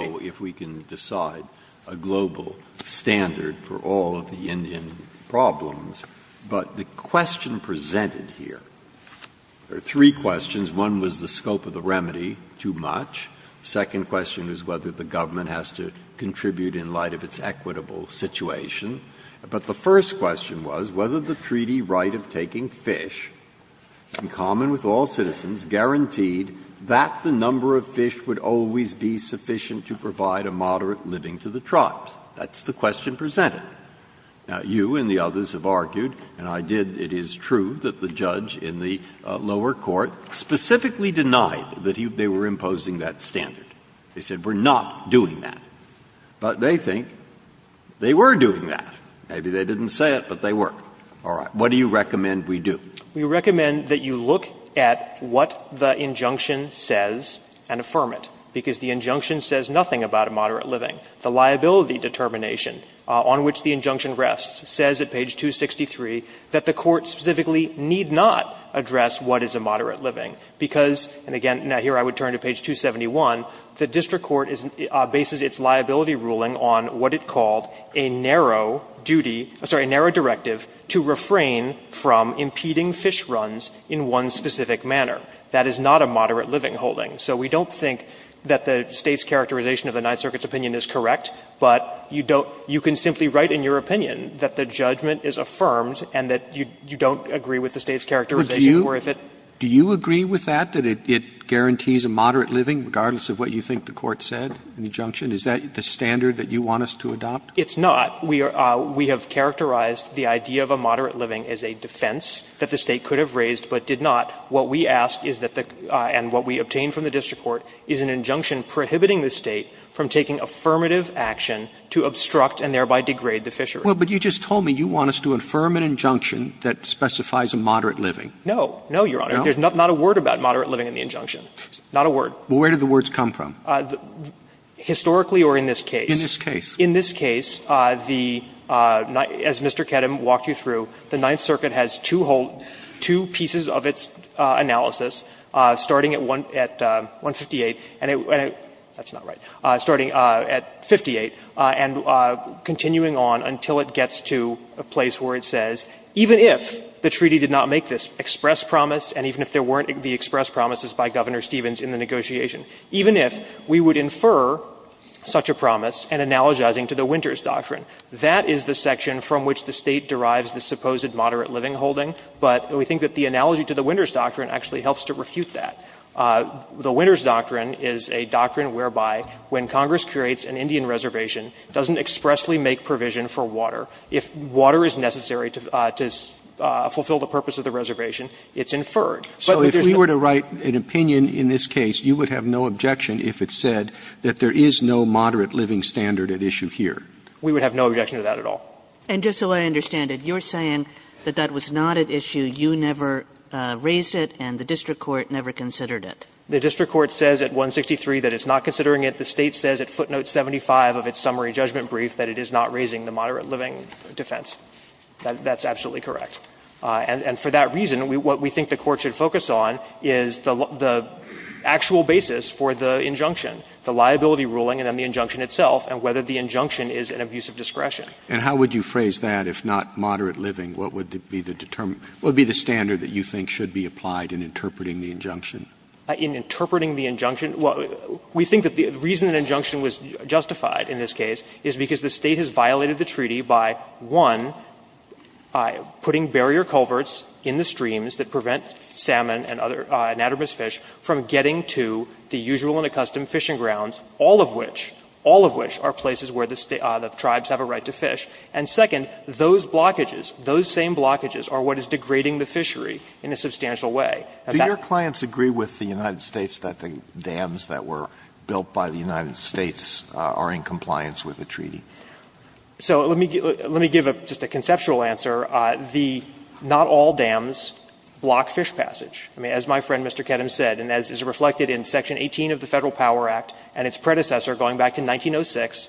don't know if we can decide a global standard for all of the Indian problems, but the question presented here — there are three questions. One was the scope of the remedy, too much. The second question was whether the government has to contribute in light of its equitable situation. But the first question was whether the treaty right of taking fish, in common with all citizens, guaranteed that the number of fish would always be sufficient to provide a moderate living to the tribes. That's the question presented. Now, you and the others have argued, and I did, it is true, that the judge in the lower court specifically denied that they were imposing that standard. They said, we're not doing that. But they think they were doing that. Maybe they didn't say it, but they were. All right. What do you recommend we do? We recommend that you look at what the injunction says and affirm it, because the injunction says nothing about a moderate living. The liability determination on which the injunction rests says at page 263 that the court specifically need not address what is a moderate living, because — and again, here I would turn to page 271 — the district court bases its liability ruling on what is a moderate living. It's not a moderate living holding. So we don't think that the State's characterization of the Ninth Circuit's opinion is correct, but you don't — you can simply write in your opinion that the judgment is affirmed and that you don't agree with the State's characterization or if it — But do you — do you agree with that, that it guarantees a moderate living, regardless of what you think the court said in the injunction? Is that the standard that you want us to adopt? It's not. We have characterized the idea of a moderate living as a defense that the State could have raised but did not. What we ask is that the — and what we obtain from the district court is an injunction prohibiting the State from taking affirmative action to obstruct and thereby degrade the fishery. Well, but you just told me you want us to affirm an injunction that specifies a moderate living. No. No, Your Honor. No? There's not a word about moderate living in the injunction. Not a word. Well, where did the words come from? Historically or in this case? In this case. In this case, the — as Mr. Kedem walked you through, the Ninth Circuit has two whole — two pieces of its analysis, starting at 158 and — that's not right — starting at 58 and continuing on until it gets to a place where it says, even if the treaty did not make this express promise and even if there weren't the express promises by Governor Stevens in the negotiation, even if we would infer such a promise and that's what we're doing here. We're analogizing to the Winters Doctrine. That is the section from which the State derives the supposed moderate living holding, but we think that the analogy to the Winters Doctrine actually helps to refute that. The Winters Doctrine is a doctrine whereby when Congress creates an Indian reservation, it doesn't expressly make provision for water. If water is necessary to fulfill the purpose of the reservation, it's inferred. But there's no— And just so I understand it, you're saying that that was not at issue, you never raised it, and the district court never considered it. The district court says at 163 that it's not considering it. The State says at footnote 75 of its summary judgment brief that it is not raising the moderate living defense. That's absolutely correct. And for that reason, what we think the Court should focus on is the actual basis for the injunction, the liability ruling and then the injunction itself and whether the injunction is an abuse of discretion. And how would you phrase that if not moderate living? What would be the standard that you think should be applied in interpreting the injunction? In interpreting the injunction? Well, we think that the reason the injunction was justified in this case is because the State has violated the treaty by, one, putting barrier culverts in the streams that prevent salmon and other anatomous fish from getting to the usual and accustomed fishing grounds, all of which, all of which are places where the tribes have a right to fish, and second, those blockages, those same blockages are what is degrading the fishery in a substantial way. Do your clients agree with the United States that the dams that were built by the United States are in compliance with the treaty? So let me give just a conceptual answer. The not all dams block fish passage. I mean, as my friend Mr. Kedem said, and as is reflected in section 18 of the Federal Power Act and its predecessor going back to 1906,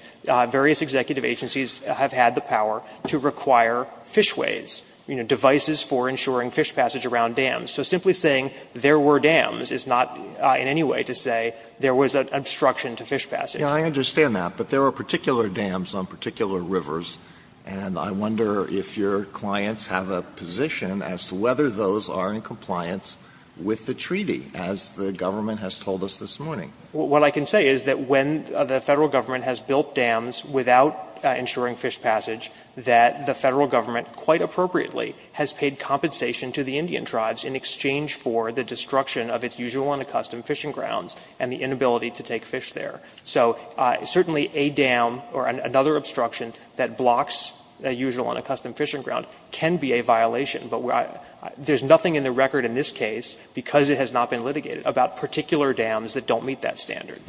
various executive agencies have had the power to require fishways, you know, devices for ensuring fish passage around dams. So simply saying there were dams is not in any way to say there was an obstruction to fish passage. Yeah, I understand that, but there are particular dams on particular rivers, and I wonder if your clients have a position as to whether those are in compliance with the treaty, as the government has told us this morning. What I can say is that when the Federal Government has built dams without ensuring fish passage, that the Federal Government quite appropriately has paid compensation to the Indian tribes in exchange for the destruction of its usual and accustomed fishing grounds and the inability to take fish there. So certainly a dam or another obstruction that blocks a usual and accustomed fishing ground can be a violation, but there's nothing in the record in this case, because it has not been litigated, about particular dams that don't meet that standard.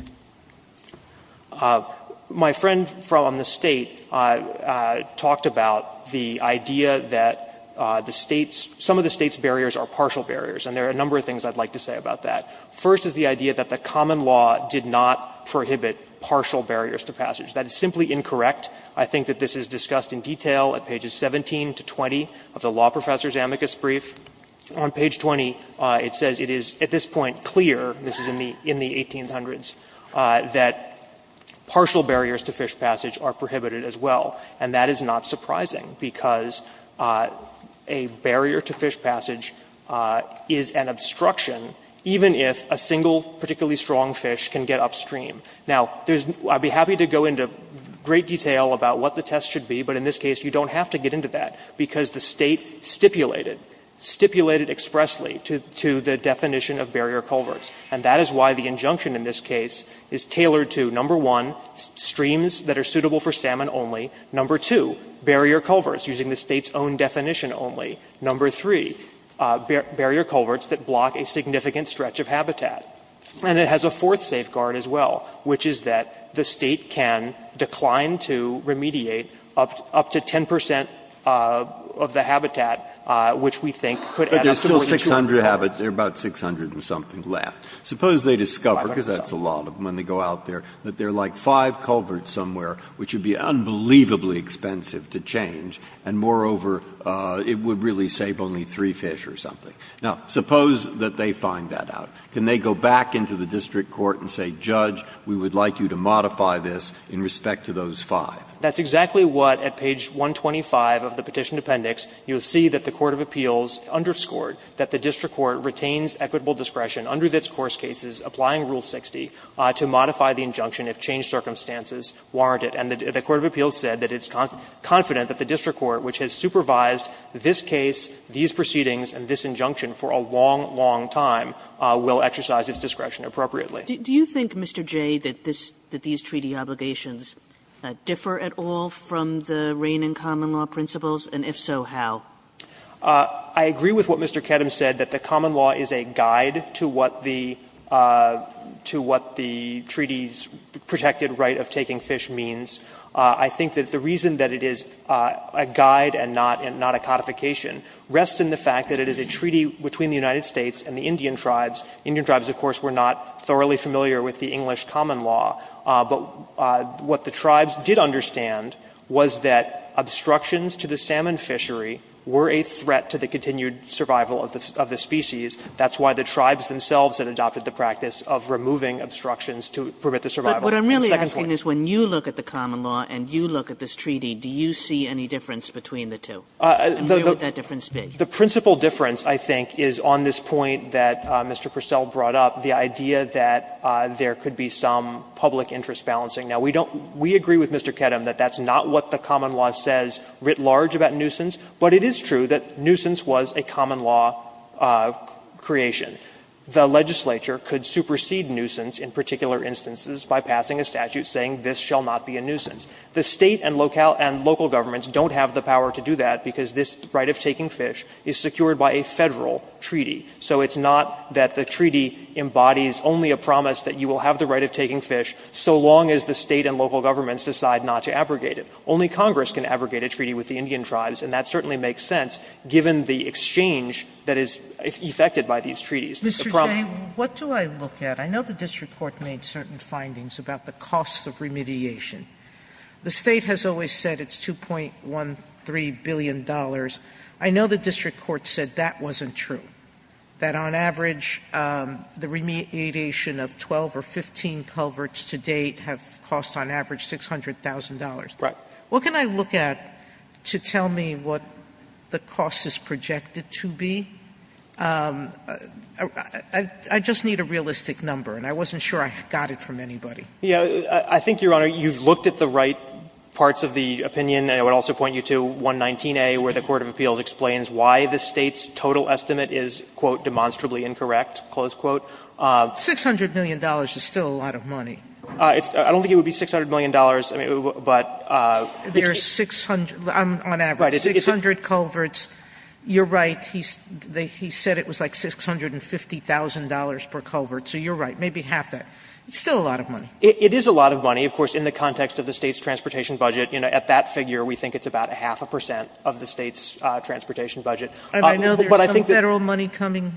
My friend from the State talked about the idea that the State's, some of the State's barriers are partial barriers, and there are a number of things I'd like to say about that. First is the idea that the common law did not prohibit partial barriers to passage. That is simply incorrect. I think that this is discussed in detail at pages 17 to 20 of the law professor's amicus brief. On page 20, it says it is, at this point, clear, this is in the 1800s, that partial barriers to fish passage are prohibited as well, and that is not surprising, if a single particularly strong fish can get upstream. Now, there's, I'd be happy to go into great detail about what the test should be, but in this case, you don't have to get into that, because the State stipulated, stipulated expressly to the definition of barrier culverts. And that is why the injunction in this case is tailored to, number one, streams that are suitable for salmon only, number two, barrier culverts, using the State's own definition only, number three, barrier culverts that block a significant stretch of habitat. And it has a fourth safeguard as well, which is that the State can decline to remediate up to 10 percent of the habitat, which we think could add up to more than 200. Breyer. But there's still 600, there are about 600 and something left. Suppose they discover, because that's a lot of them when they go out there, that there are like five culverts somewhere, which would be unbelievably expensive to change, and moreover, it would really save only three fish or something. Now, suppose that they find that out. Can they go back into the district court and say, Judge, we would like you to modify this in respect to those five? That's exactly what, at page 125 of the Petition Appendix, you'll see that the court of appeals underscored that the district court retains equitable discretion under its course cases, applying Rule 60, to modify the injunction if changed circumstances warrant it. And the court of appeals said that it's confident that the district court, which has supervised this case, these proceedings, and this injunction for a long, long time, will exercise its discretion appropriately. Kagan. Kagan. Do you think, Mr. Jay, that this, that these treaty obligations differ at all from the reign in common law principles, and if so, how? Jay. I agree with what Mr. Kedem said, that the common law is a guide to what the, to what the treaty's protected right of taking fish means. I think that the reason that it is a guide and not, and not a codification rests in the fact that it is a treaty between the United States and the Indian tribes. Indian tribes, of course, were not thoroughly familiar with the English common law, but what the tribes did understand was that obstructions to the salmon fishery were a threat to the continued survival of the, of the species. That's why the tribes themselves had adopted the practice of removing obstructions to permit the survival. Kagan. But what I'm really asking is, when you look at the common law and you look at this treaty, do you see any difference between the two? And where would that difference be? Jay. The principal difference, I think, is on this point that Mr. Purcell brought up, the idea that there could be some public interest balancing. Now, we don't, we agree with Mr. Kedem that that's not what the common law says writ large about nuisance, but it is true that nuisance was a common law creation. The legislature could supersede nuisance in particular instances by passing a statute saying this shall not be a nuisance. The State and local governments don't have the power to do that because this right of taking fish is secured by a Federal treaty. So it's not that the treaty embodies only a promise that you will have the right of taking fish so long as the State and local governments decide not to abrogate it. Only Congress can abrogate a treaty with the Indian tribes, and that certainly makes sense given the exchange that is effected by these treaties. Sotomayor, what do I look at? I know the district court made certain findings about the cost of remediation. The State has always said it's $2.13 billion. I know the district court said that wasn't true, that on average the remediation of 12 or 15 culverts to date have cost on average $600,000. Jay. What can I look at to tell me what the cost is projected to be? I just need a realistic number, and I wasn't sure I got it from anybody. I think, Your Honor, you've looked at the right parts of the opinion, and I would also point you to 119a where the court of appeals explains why the State's total estimate is, quote, demonstrably incorrect, close quote. $600 million is still a lot of money. I don't think it would be $600 million, but it's a bit. There's 600, on average, 600 culverts. You're right. He said it was like $650,000 per culvert, so you're right, maybe half that. It's still a lot of money. It is a lot of money, of course, in the context of the State's transportation budget. At that figure, we think it's about a half a percent of the State's transportation budget. I know there's some Federal money coming.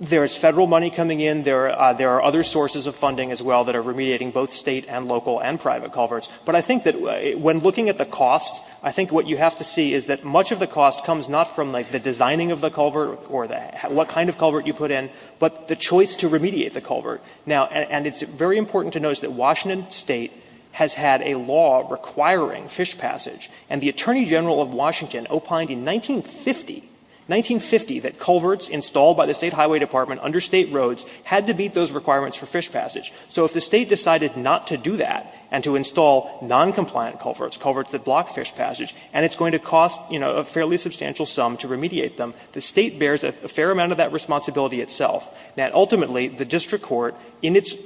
There is Federal money coming in. There are other sources of funding as well that are remediating both State and local and private culverts. But I think that when looking at the cost, I think what you have to see is that much of the cost comes not from the designing of the culvert or what kind of culvert you put in, but the choice to remediate the culvert. Now, and it's very important to notice that Washington State has had a law requiring fish passage, and the Attorney General of Washington opined in 1950, 1950, that culverts installed by the State Highway Department under State roads had to meet those requirements for fish passage. So if the State decided not to do that and to install noncompliant culverts, culverts that block fish passage, and it's going to cost, you know, a fairly substantial sum to remediate them, the State bears a fair amount of that responsibility itself. Now, ultimately, the district court, in its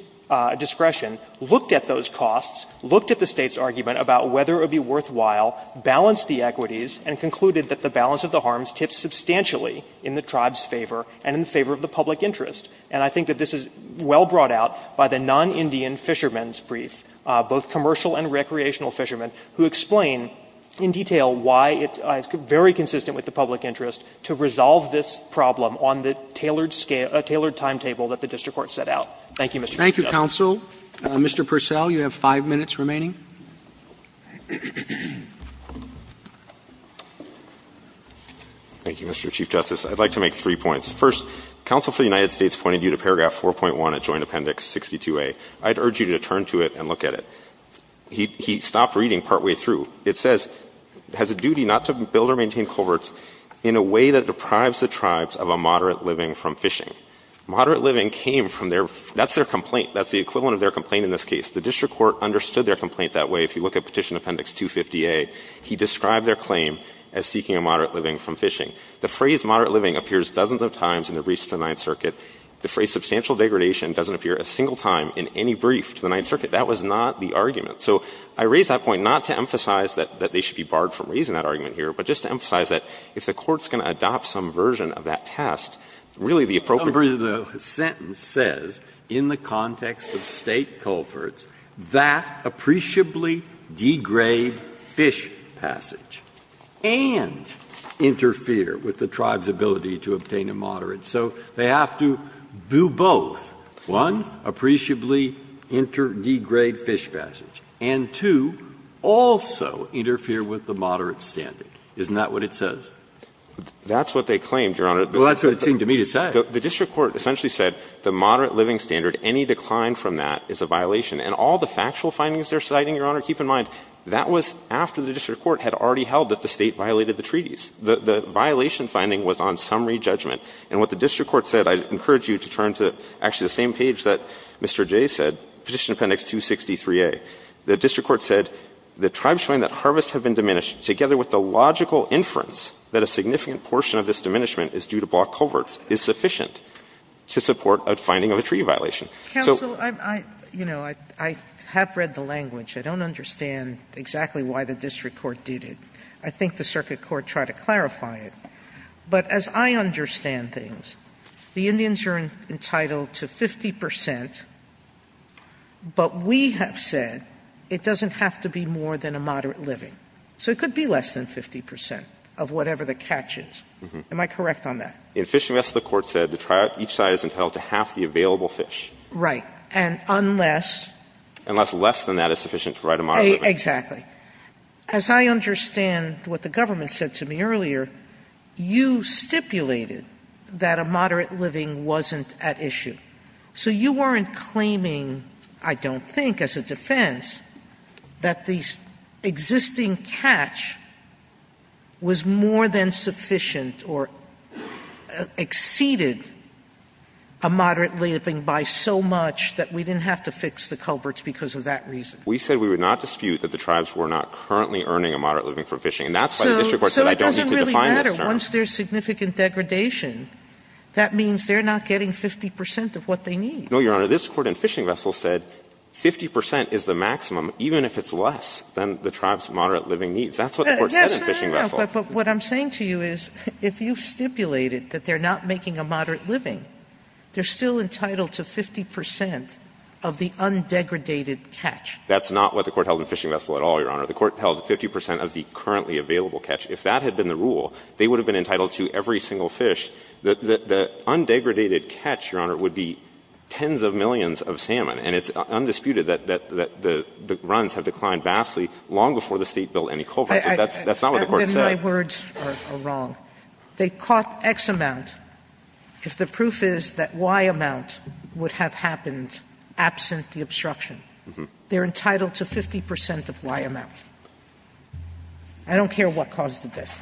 discretion, looked at those costs, looked at the State's argument about whether it would be worthwhile, balanced the equities, and concluded that the balance of the harms tips substantially in the tribe's favor and in favor of the public interest. And I think that this is well brought out by the non-Indian fishermen's brief, both commercial and recreational fishermen, who explain in detail why it's very consistent with the public interest to resolve this problem on the tailored scale, a tailored timetable that the district court set out. Thank you, Mr. Chief Justice. Roberts. Thank you, counsel. Mr. Purcell, you have five minutes remaining. Thank you, Mr. Chief Justice. I'd like to make three points. First, counsel for the United States pointed you to paragraph 4.1 of Joint Appendix 62A. I'd urge you to turn to it and look at it. He stopped reading partway through. It says, has a duty not to build or maintain culverts in a way that deprives the tribes of a moderate living from fishing. Moderate living came from their — that's their complaint. That's the equivalent of their complaint in this case. The district court understood their complaint that way. If you look at Petition Appendix 250A, he described their claim as seeking a moderate living from fishing. The phrase moderate living appears dozens of times in the briefs to the Ninth Circuit. The phrase substantial degradation doesn't appear a single time in any brief to the Ninth Circuit. That was not the argument. So I raise that point not to emphasize that they should be barred from raising that argument here, but just to emphasize that if the court's going to adopt some version of that test, really the appropriate— in the context of State culverts, that appreciably degrade fish passage, and interfere with the tribe's ability to obtain a moderate. So they have to do both. One, appreciably degrade fish passage. And two, also interfere with the moderate standard. Isn't that what it says? That's what they claimed, Your Honor. Well, that's what it seemed to me to say. The district court essentially said the moderate living standard, any decline from that is a violation. And all the factual findings they're citing, Your Honor, keep in mind, that was after the district court had already held that the State violated the treaties. The violation finding was on summary judgment. And what the district court said, I encourage you to turn to actually the same page that Mr. Jay said, Petition Appendix 263A. The district court said, the tribes showing that harvests have been diminished together with the logical inference that a significant portion of this diminishment is due to block coverts is sufficient to support a finding of a treaty violation. So you know, I have read the language. I don't understand exactly why the district court did it. I think the circuit court tried to clarify it. But as I understand things, the Indians are entitled to 50 percent, but we have said it doesn't have to be more than a moderate living. So it could be less than 50 percent of whatever the catch is. Am I correct on that? In Fish and Vest, the court said that each side is entitled to half the available fish. Right. And unless? Unless less than that is sufficient to provide a moderate living. Exactly. As I understand what the government said to me earlier, you stipulated that a moderate living wasn't at issue. So you weren't claiming, I don't think, as a defense, that the existing catch was more than sufficient or exceeded a moderate living by so much that we didn't have to fix the coverts because of that reason. We said we would not dispute that the tribes were not currently earning a moderate living from fishing. And that's why the district court said I don't need to define this term. So it doesn't really matter. Once there's significant degradation, that means they're not getting 50 percent of what they need. No, Your Honor. This Court in Fish and Vest said 50 percent is the maximum, even if it's less than the tribes' moderate living needs. That's what the Court said in Fish and Vest. But what I'm saying to you is if you stipulated that they're not making a moderate living, they're still entitled to 50 percent of the undegradated catch. That's not what the Court held in Fish and Vest at all, Your Honor. The Court held 50 percent of the currently available catch. If that had been the rule, they would have been entitled to every single fish. The undegradated catch, Your Honor, would be tens of millions of salmon. And it's undisputed that the runs have declined vastly long before the State billed any coverts. That's not what the Court said. Sotomayor, my words are wrong. They caught X amount. If the proof is that Y amount would have happened absent the obstruction, they're entitled to 50 percent of Y amount. I don't care what caused this.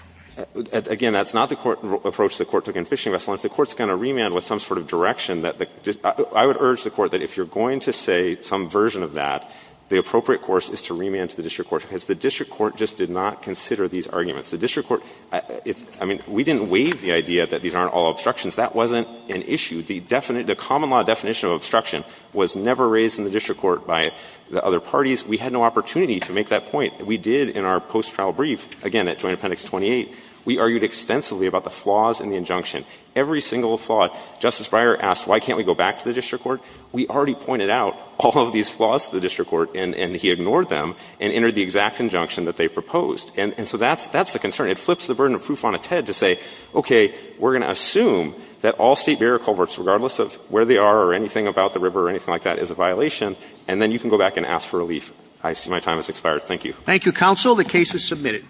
Again, that's not the Court's approach the Court took in Fish and Vest. Unless the Court's going to remand with some sort of direction that the – I would urge the Court that if you're going to say some version of that, the appropriate course is to remand to the district court, because the district court just did not consider these arguments. The district court – I mean, we didn't waive the idea that these aren't all obstructions. That wasn't an issue. The common law definition of obstruction was never raised in the district court by the other parties. We had no opportunity to make that point. We did in our post-trial brief, again, at Joint Appendix 28. We argued extensively about the flaws in the injunction, every single flaw. Justice Breyer asked, why can't we go back to the district court? We already pointed out all of these flaws to the district court, and he ignored them and entered the exact injunction that they proposed. And so that's the concern. It flips the burden of proof on its head to say, okay, we're going to assume that all State barrier culverts, regardless of where they are or anything about the river or anything like that, is a violation, and then you can go back and ask for relief. I see my time has expired. Thank you. Thank you, counsel. The case is submitted.